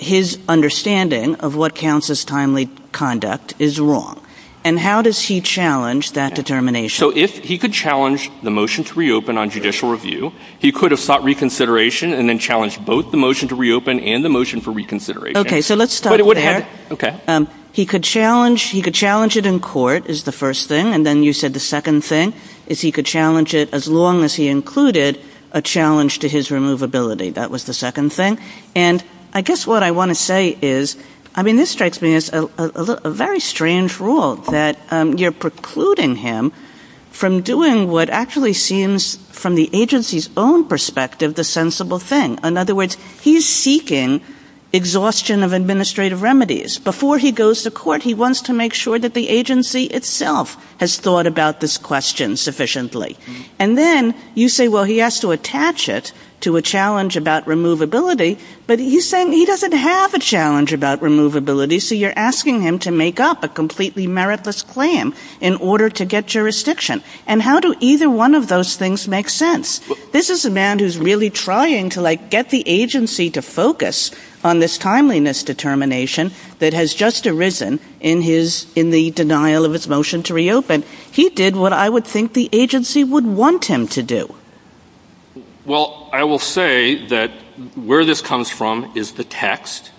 his understanding of what counts as timely conduct is wrong. And how does he challenge that determination? So if he could challenge the motion to reopen on judicial review, he could have sought reconsideration and then challenged both the motion to reopen and the motion for reconsideration. Okay, so let's stop there. He could challenge it in court is the first thing. And then you said the second thing is he could challenge it as long as he included a challenge to his removability. That was the second thing. And I guess what I want to say is, I mean, this strikes me as a very strange rule that you're precluding him from doing what actually seems, from the agency's own perspective, the sensible thing. In other words, he's seeking exhaustion of administrative remedies. Before he goes to court, he wants to make sure that the agency itself has thought about this question sufficiently. And then you say, well, he has to attach it to a challenge about removability. But he's saying he doesn't have a challenge about removability. So you're asking him to make up a completely meritless claim in order to get jurisdiction. And how do either one of those things make sense? This is a man who's really trying to get the agency to focus on this timeliness determination that has just arisen in the denial of his motion to reopen. He did what I would think the agency would want him to do. Well, I will say that where this comes from is the text.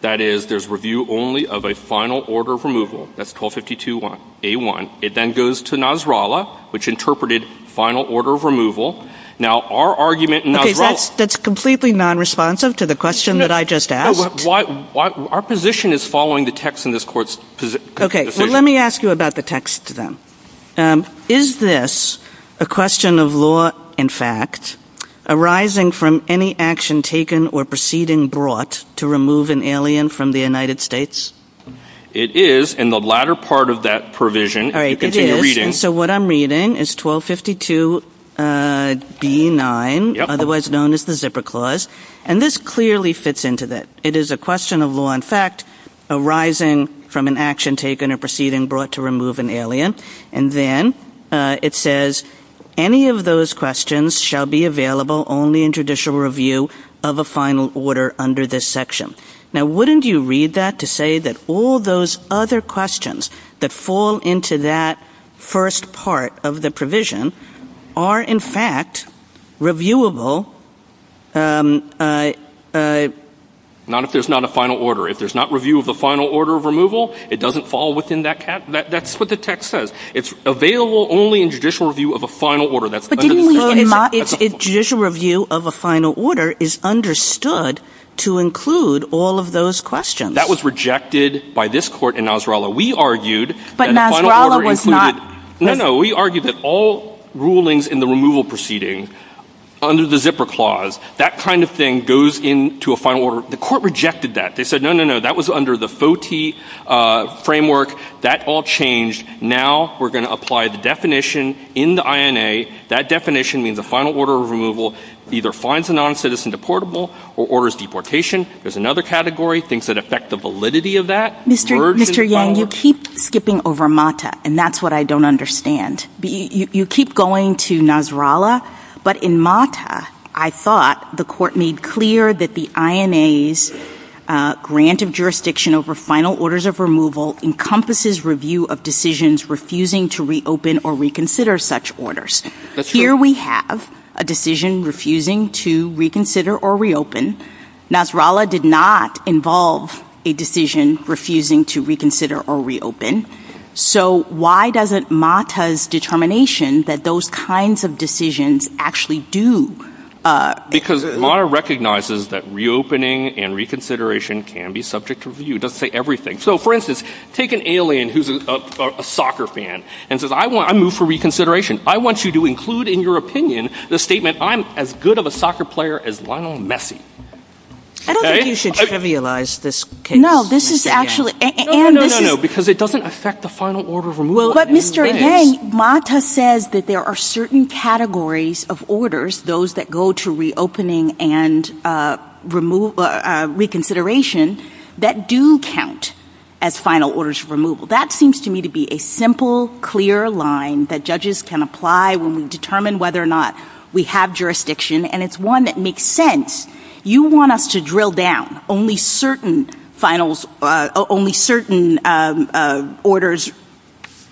That is, there's review only of a final order of removal. That's 1252A1. It then goes to Nasrallah, which interpreted final order of removal. Now, our argument in Nasrallah. That's completely non-responsive to the question that I just asked. Our position is following the text in this court's position. Let me ask you about the text then. Is this a question of law, in fact, arising from any action taken or proceeding brought to remove an alien from the United States? It is. And the latter part of that provision, if you continue reading. So what I'm reading is 1252B9, otherwise known as the zipper clause. And this clearly fits into that. It is a question of law, in fact, arising from an action taken or proceeding brought to remove an alien. And then it says, any of those questions shall be available only in judicial review of a final order under this section. Now, wouldn't you read that to say that all those other questions that fall into that first part of the provision are, in fact, reviewable. Not if there's not a final order. If there's not review of the final order of removal, it doesn't fall within that cap. That's what the text says. It's available only in judicial review of a final order. But didn't we get it not if judicial review of a final order is understood to include all of those questions? That was rejected by this court in Nasrallah. We argued that a final order included- But Nasrallah was not- No, no. We argued that all rulings in the removal proceeding, under the zipper clause, that kind of thing goes into a final order. The court rejected that. They said, no, no, no. That was under the FOTI framework. That all changed. Now, we're going to apply the definition in the INA. That definition means a final order of removal either finds a non-citizen deportable or orders deportation. There's another category, things that affect the validity of that. Mr. Yang, you keep skipping over MATA, and that's what I don't understand. You keep going to Nasrallah, but in MATA, I thought the court made clear that the INA's grant of jurisdiction over final orders of removal encompasses review of decisions refusing to reopen or reconsider such orders. Here we have a decision refusing to reconsider or reopen. Nasrallah did not involve a decision refusing to reconsider or reopen. So why doesn't MATA's determination that those kinds of decisions actually do- Because MATA recognizes that reopening and reconsideration can be subject to review. It doesn't say everything. So for instance, take an alien who's a soccer fan and says, I move for reconsideration. I want you to include in your opinion the statement, I'm as good of a soccer player as Lionel Messi. I don't think you should trivialize this case. No, this is actually- No, no, no, no, no, because it doesn't affect the final order of removal. But Mr. Heng, MATA says that there are certain categories of orders, those that go to reopening and reconsideration, that do count as final orders of removal. That seems to me to be a simple, clear line that judges can apply when we determine whether or not we have jurisdiction, and it's one that makes sense. You want us to drill down. Only certain orders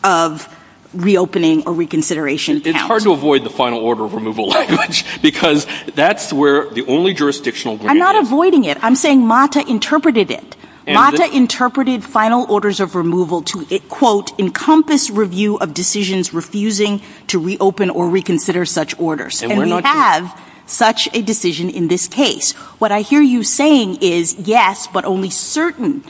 of reopening or reconsideration count. It's hard to avoid the final order of removal language, because that's where the only jurisdictional - I'm not avoiding it. I'm saying MATA interpreted it. MATA interpreted final orders of removal to, quote, encompass review of decisions refusing to reopen or reconsider such orders. And we have such a decision in this case. What I hear you saying is, yes, but only certain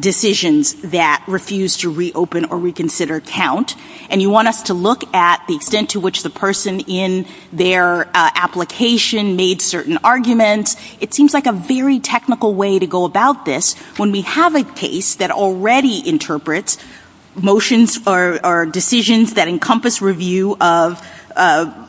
decisions that refuse to reopen or reconsider count. And you want us to look at the extent to which the person in their application made certain arguments. It seems like a very technical way to go about this. When we have a case that already interprets motions or decisions that encompass review of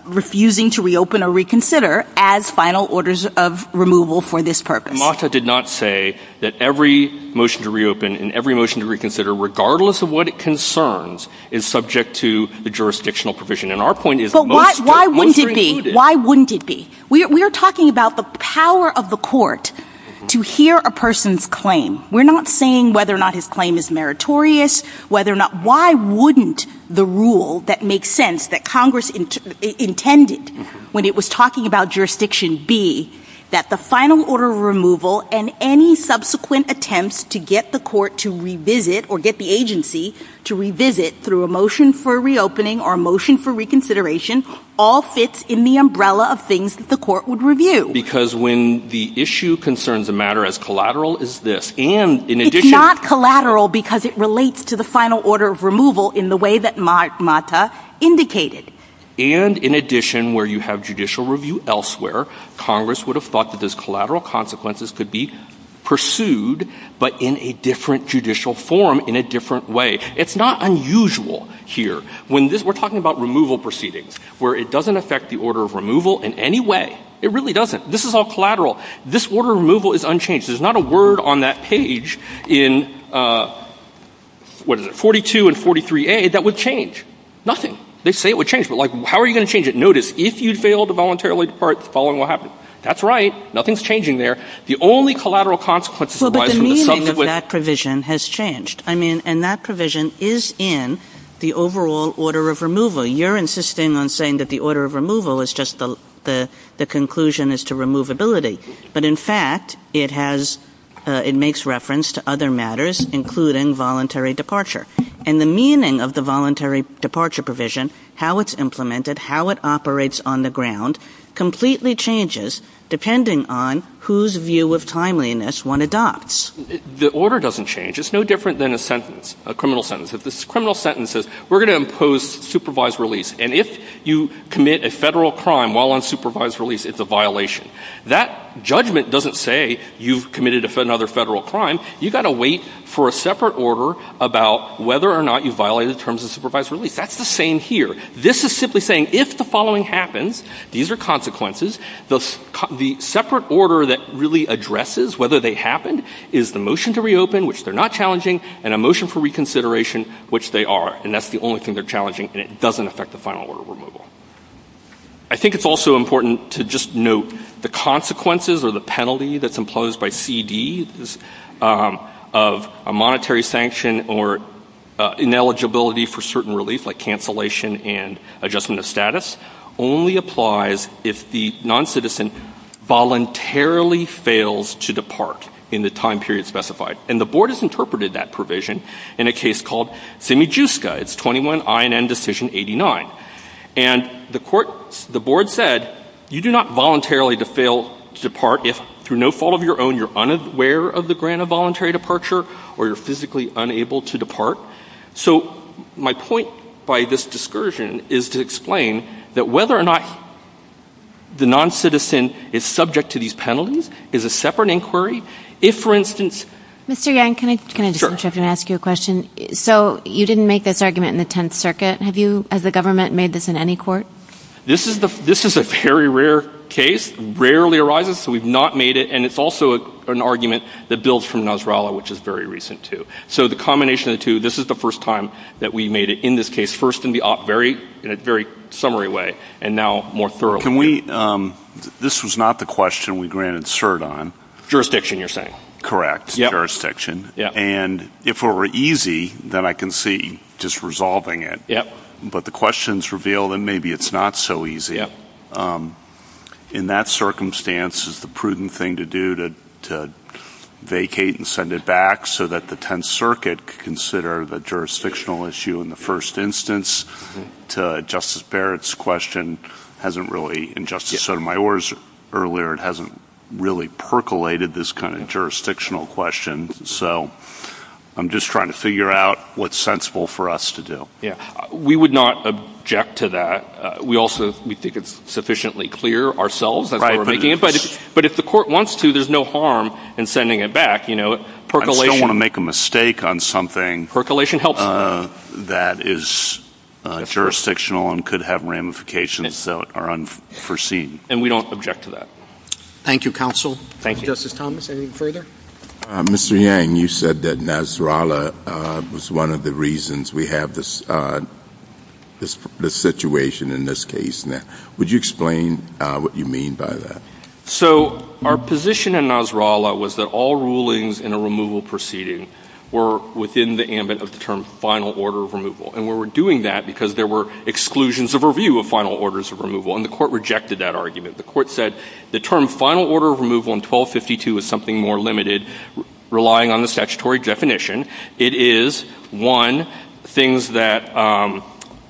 refusing to reopen or reconsider as final orders of removal for this purpose. MATA did not say that every motion to reopen and every motion to reconsider, regardless of what it concerns, is subject to the jurisdictional provision. And our point is- But why wouldn't it be? Why wouldn't it be? We are talking about the power of the court to hear a person's claim. We're not saying whether or not his claim is meritorious, whether or not- Why wouldn't the rule that makes sense, that Congress intended when it was talking about jurisdiction be that the final order of removal and any subsequent attempts to get the court to revisit or get the agency to revisit through a motion for reopening or a motion for reconsideration all fits in the umbrella of things that the court would review. Because when the issue concerns a matter as collateral as this, and in addition- It's not collateral because it relates to the final order of removal in the way that MATA indicated. And in addition, where you have judicial review elsewhere, Congress would have thought that those collateral consequences could be pursued, but in a different judicial form, in a different way. It's not unusual here. We're talking about removal proceedings where it doesn't affect the order of removal in any way. It really doesn't. This is all collateral. This order of removal is unchanged. There's not a word on that page in, what is it, 42 and 43A that would change. Nothing. They say it would change, but how are you going to change it? Notice, if you fail to voluntarily depart, the following will happen. That's right. Nothing's changing there. The only collateral consequences arise from the subsequent- Well, but the meaning of that provision has changed. And that provision is in the overall order of removal. You're insisting on saying that the order of removal is just the conclusion as to removability. But in fact, it makes reference to other matters, including voluntary departure. And the meaning of the voluntary departure provision, how it's implemented, how it operates on the ground, completely changes depending on whose view of timeliness one adopts. The order doesn't change. It's no different than a sentence, a criminal sentence. If this criminal sentence says, we're going to impose supervised release, and if you commit a federal crime while on supervised release, it's a violation. That judgment doesn't say you've committed another federal crime. You've got to wait for a separate order about whether or not you violated the terms of supervised release. That's the same here. This is simply saying, if the following happens, these are consequences, the separate order that really addresses whether they happened is the motion to reopen, which they're not challenging, and a motion for reconsideration, which they are. And that's the only thing they're challenging, and it doesn't affect the final order of removal. I think it's also important to just note the consequences or the penalty that's imposed by CD of a monetary sanction or ineligibility for certain relief, like cancellation and adjustment of status, only applies if the noncitizen voluntarily fails to depart in the time period specified. And the board has interpreted that provision in a case called Simijuska. It's 21 INN Decision 89. And the court, the board said, you do not voluntarily fail to depart if, through no fault of your own, you're unaware of the grant of voluntary departure or you're physically unable to depart. So my point by this discursion is to explain that whether or not the noncitizen is subject to these penalties is a separate inquiry. If, for instance... Mr. Yang, can I just interrupt and ask you a question? So you didn't make this argument in the Tenth Circuit. Have you, as the government, made this in any court? This is a very rare case, rarely arises, so we've not made it. And it's also an argument that builds from Nasrallah, which is very recent, too. So the combination of the two, this is the first time that we made it in this case, first in a very summary way, and now more thoroughly. This was not the question we granted cert on. Jurisdiction, you're saying? Correct. Jurisdiction. And if it were easy, then I can see just resolving it. But the question's revealed that maybe it's not so easy. In that circumstance, is the prudent thing to do to vacate and send it back so that the Tenth Circuit could consider the jurisdictional issue in the first instance? Justice Barrett's question hasn't really, and Justice Sotomayor's earlier, it hasn't really percolated this kind of jurisdictional question. So I'm just trying to figure out what's sensible for us to do. We would not object to that. We also, we think it's sufficiently clear ourselves, that's why we're making it. But if the court wants to, there's no harm in sending it back, you know, percolation... We don't want to make a mistake on something that is jurisdictional and could have ramifications that are unforeseen. And we don't object to that. Thank you, counsel. Thank you. Justice Thomas, anything further? Mr. Yang, you said that Nasrallah was one of the reasons we have this situation in this case now. Would you explain what you mean by that? So our position in Nasrallah was that all rulings in a removal proceeding were within the ambit of the term final order of removal, and we were doing that because there were exclusions of review of final orders of removal, and the court rejected that argument. The court said the term final order of removal in 1252 is something more limited, relying on the statutory definition. It is, one, things that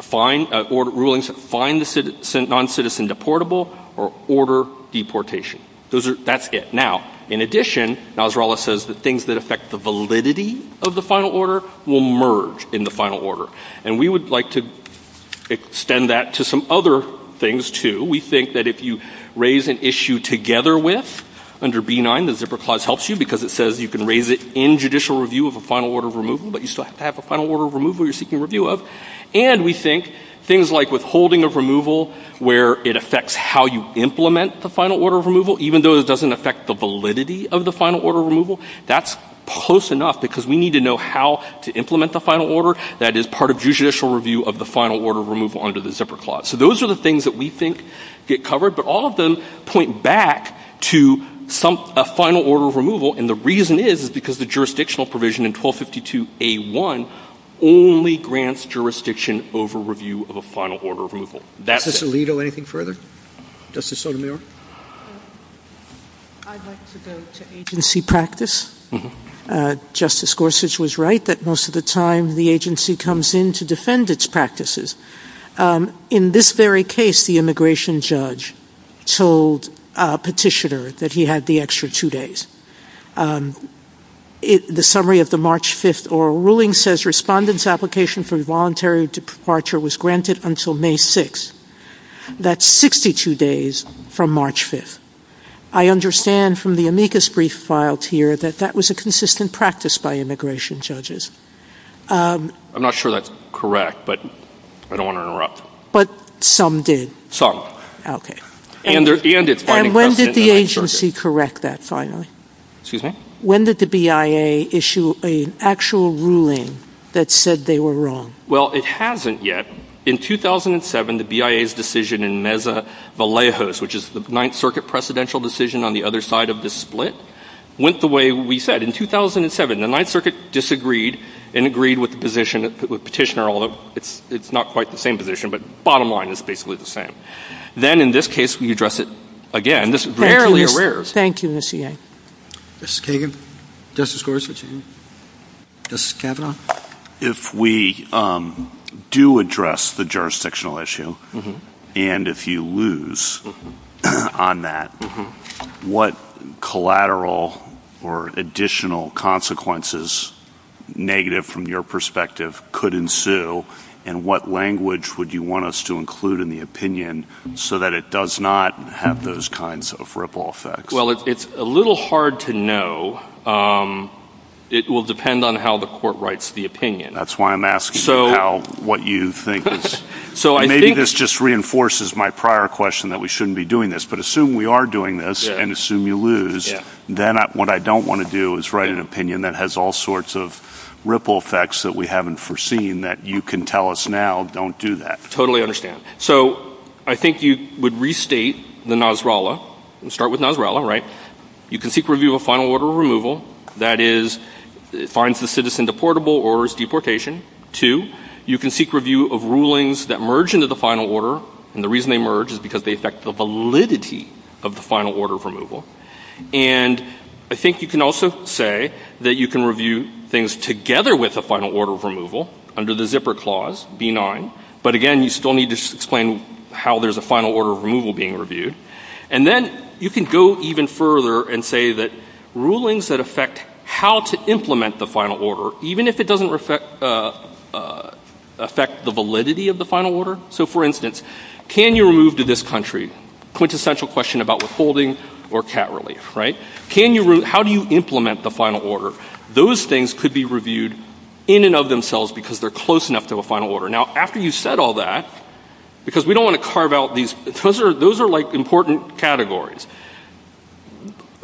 find, rulings that find the noncitizen deportable or order deportation. That's it. Now, in addition, Nasrallah says that things that affect the validity of the final order will merge in the final order. And we would like to extend that to some other things, too. We think that if you raise an issue together with, under B-9, the zipper clause helps you because it says you can raise it in judicial review of a final order of removal, but you still have to have a final order of removal you're seeking review of. And we think things like withholding of removal where it affects how you implement the final order of removal, even though it doesn't affect the validity of the final order of removal, that's close enough because we need to know how to implement the final order that is part of judicial review of the final order of removal under the zipper clause. So those are the things that we think get covered, but all of them point back to some final order of removal, and the reason is is because the jurisdictional provision in 1252A1 only grants jurisdiction over review of a final order of removal. That's it. Justice Alito, anything further? Justice Sotomayor? I'd like to go to agency practice. Justice Gorsuch was right that most of the time the agency comes in to defend its practices. In this very case, the immigration judge told a petitioner that he had the extra two days. The summary of the March 5th oral ruling says respondent's application for voluntary departure was granted until May 6th. That's 62 days from March 5th. I understand from the amicus brief filed here that that was a consistent practice by immigration judges. I'm not sure that's correct, but I don't want to interrupt. But some did. Okay. And it's finding precedent in the Ninth Circuit. And when did the agency correct that finally? Excuse me? When did the BIA issue an actual ruling that said they were wrong? Well, it hasn't yet. In 2007, the BIA's decision in Mesa-Vallejos, which is the Ninth Circuit precedential decision on the other side of the split, went the way we said. In 2007, the Ninth Circuit disagreed and agreed with the petitioner, although it's not quite the same position. But the bottom line is basically the same. Then in this case, we address it again. Fairly. Thank you, Ms. Cagan. Justice Kagan? Justice Gorsuch? Justice Kavanaugh? If we do address the jurisdictional issue, and if you lose on that, what collateral or additional consequences, negative from your perspective, could ensue, and what language would you want us to include in the opinion so that it does not have those kinds of ripple effects? Well, it's a little hard to know. It will depend on how the court writes the opinion. That's why I'm asking you what you think. Maybe this just reinforces my prior question that we shouldn't be doing this. But assume we are doing this, and assume you lose, then what I don't want to do is write an opinion that has all sorts of ripple effects that we haven't foreseen that you can tell us now, don't do that. Totally understand. So I think you would restate the Nasrallah. Start with Nasrallah, right? You can seek review of a final order of removal, that is, finds the citizen deportable or is deportation. Two, you can seek review of rulings that merge into the final order, and the reason they merge is because they affect the validity of the final order of removal. And I think you can also say that you can review things together with a final order of removal under the zipper clause, B9. But again, you still need to explain how there's a final order of removal being reviewed. And then you can go even further and say that rulings that affect how to implement the final order, even if it doesn't affect the validity of the final order, so for instance, can you move to this country, quintessential question about withholding or cat relief, right? How do you implement the final order? Those things could be reviewed in and of themselves because they're close enough to a final order. Now, after you said all that, because we don't want to carve out these ‑‑ those are like important categories.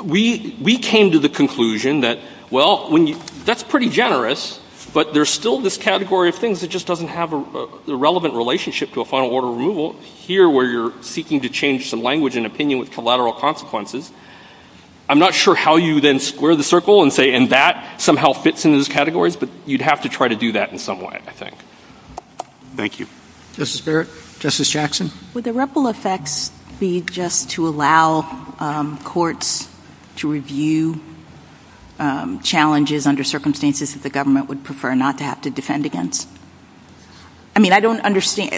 We came to the conclusion that, well, that's pretty generous, but there's still this category of things that just doesn't have a relevant relationship to a final order of removal here where you're seeking to change some language and opinion with collateral consequences. I'm not sure how you then square the circle and say, and that somehow fits in those categories, but you'd have to try to do that in some way, I think. Thank you. Justice Barrett? Justice Jackson? Would the ripple effects be just to allow courts to review challenges under circumstances that the government would prefer not to have to defend against? I mean, I don't understand.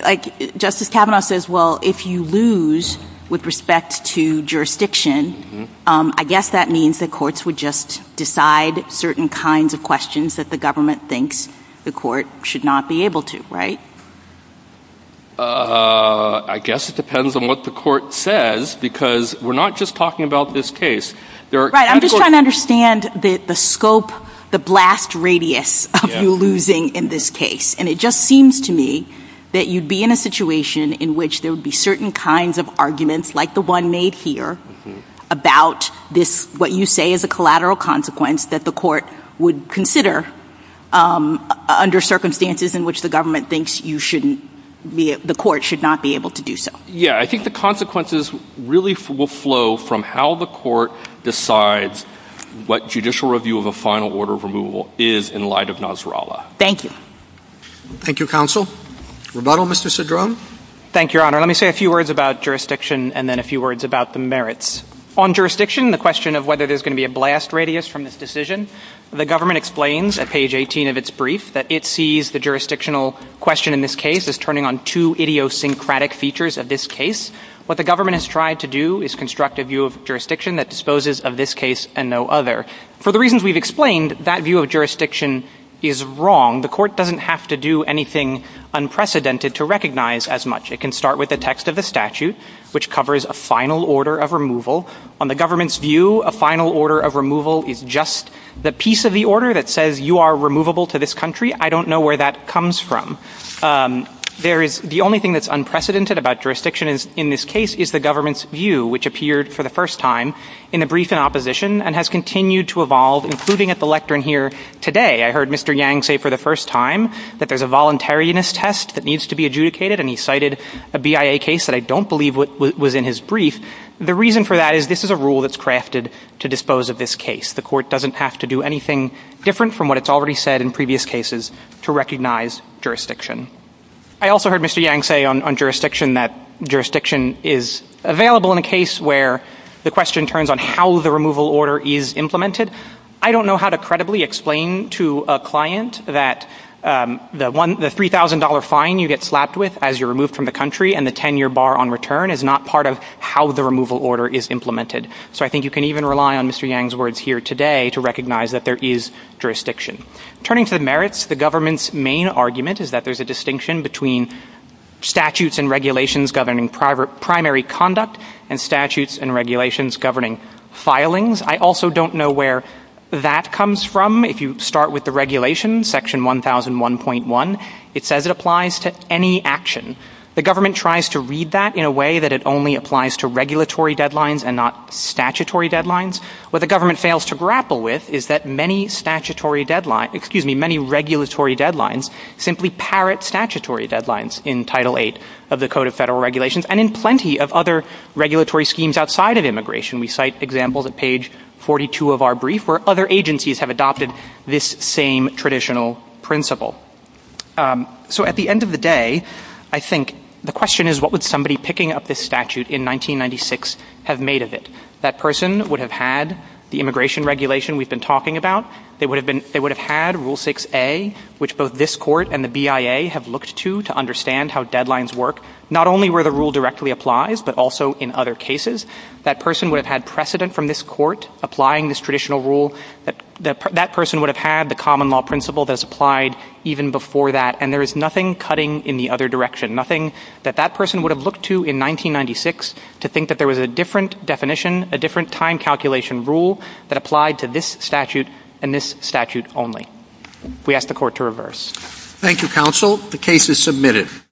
Justice Kavanaugh says, well, if you lose with respect to jurisdiction, I guess that means that courts would just decide certain kinds of questions that the government thinks the court should not be able to, right? I guess it depends on what the court says because we're not just talking about this case. Right. I'm just trying to understand the scope, the blast radius of you losing in this case, and it just seems to me that you'd be in a situation in which there would be certain kinds of arguments, like the one made here, about what you say is a collateral consequence that the court would consider under circumstances in which the government thinks the court should not be able to do so. Yeah, I think the consequences really will flow from how the court decides what judicial review of a final order of removal is in light of Nasrallah. Thank you. Thank you, counsel. Rebuttal, Mr. Cedrone? Thank you, Your Honor. Let me say a few words about jurisdiction and then a few words about the merits. On jurisdiction, the question of whether there's going to be a blast radius from this decision, the government explains at page 18 of its brief that it sees the jurisdictional question in this case as turning on two idiosyncratic features of this case. What the government has tried to do is construct a view of jurisdiction that disposes of this case and no other. For the reasons we've explained, that view of jurisdiction is wrong. The court doesn't have to do anything unprecedented to recognize as much. It can start with the text of the statute, which covers a final order of removal. On the government's view, a final order of removal is just the piece of the order that says you are removable to this country. I don't know where that comes from. There is the only thing that's unprecedented about jurisdiction in this case is the government's view, which appeared for the first time in the brief in opposition and has continued to evolve, including at the lectern here today. I heard Mr. Yang say for the first time that there's a voluntariness test that needs to be adjudicated, and he cited a BIA case that I don't believe was in his brief. The reason for that is this is a rule that's crafted to dispose of this case. The court doesn't have to do anything different from what it's already said in previous cases to recognize jurisdiction. I also heard Mr. Yang say on jurisdiction that jurisdiction is available in a case where the question turns on how the removal order is implemented. I don't know how to credibly explain to a client that the $3,000 fine you get slapped with as you're removed from the country and the 10-year bar on return is not part of how the removal order is implemented. So I think you can even rely on Mr. Yang's words here today to recognize that there is jurisdiction. Turning to the merits, the government's main argument is that there's a distinction between statutes and regulations governing primary conduct and statutes and regulations governing filings. I also don't know where that comes from. If you start with the regulation, section 1001.1, it says it applies to any action. The government tries to read that in a way that it only applies to regulatory deadlines and not statutory deadlines. What the government fails to grapple with is that many regulatory deadlines simply parrot statutory deadlines in Title VIII of the Code of Federal Regulations and in plenty of other regulatory schemes outside of immigration. We cite examples at page 42 of our brief where other agencies have adopted this same traditional principle. So at the end of the day, I think the question is what would somebody picking up this statute in 1996 have made of it? That person would have had the immigration regulation we've been talking about. They would have had Rule 6A, which both this court and the BIA have looked to to understand how deadlines work, not only where the rule directly applies, but also in other cases. That person would have had precedent from this court applying this traditional rule. That person would have had the common law principle that's applied even before that, and there is nothing cutting in the other direction, nothing that that person would have looked to in 1996 to think that there was a different definition, a different time calculation rule that applied to this statute and this statute only. We ask the court to reverse.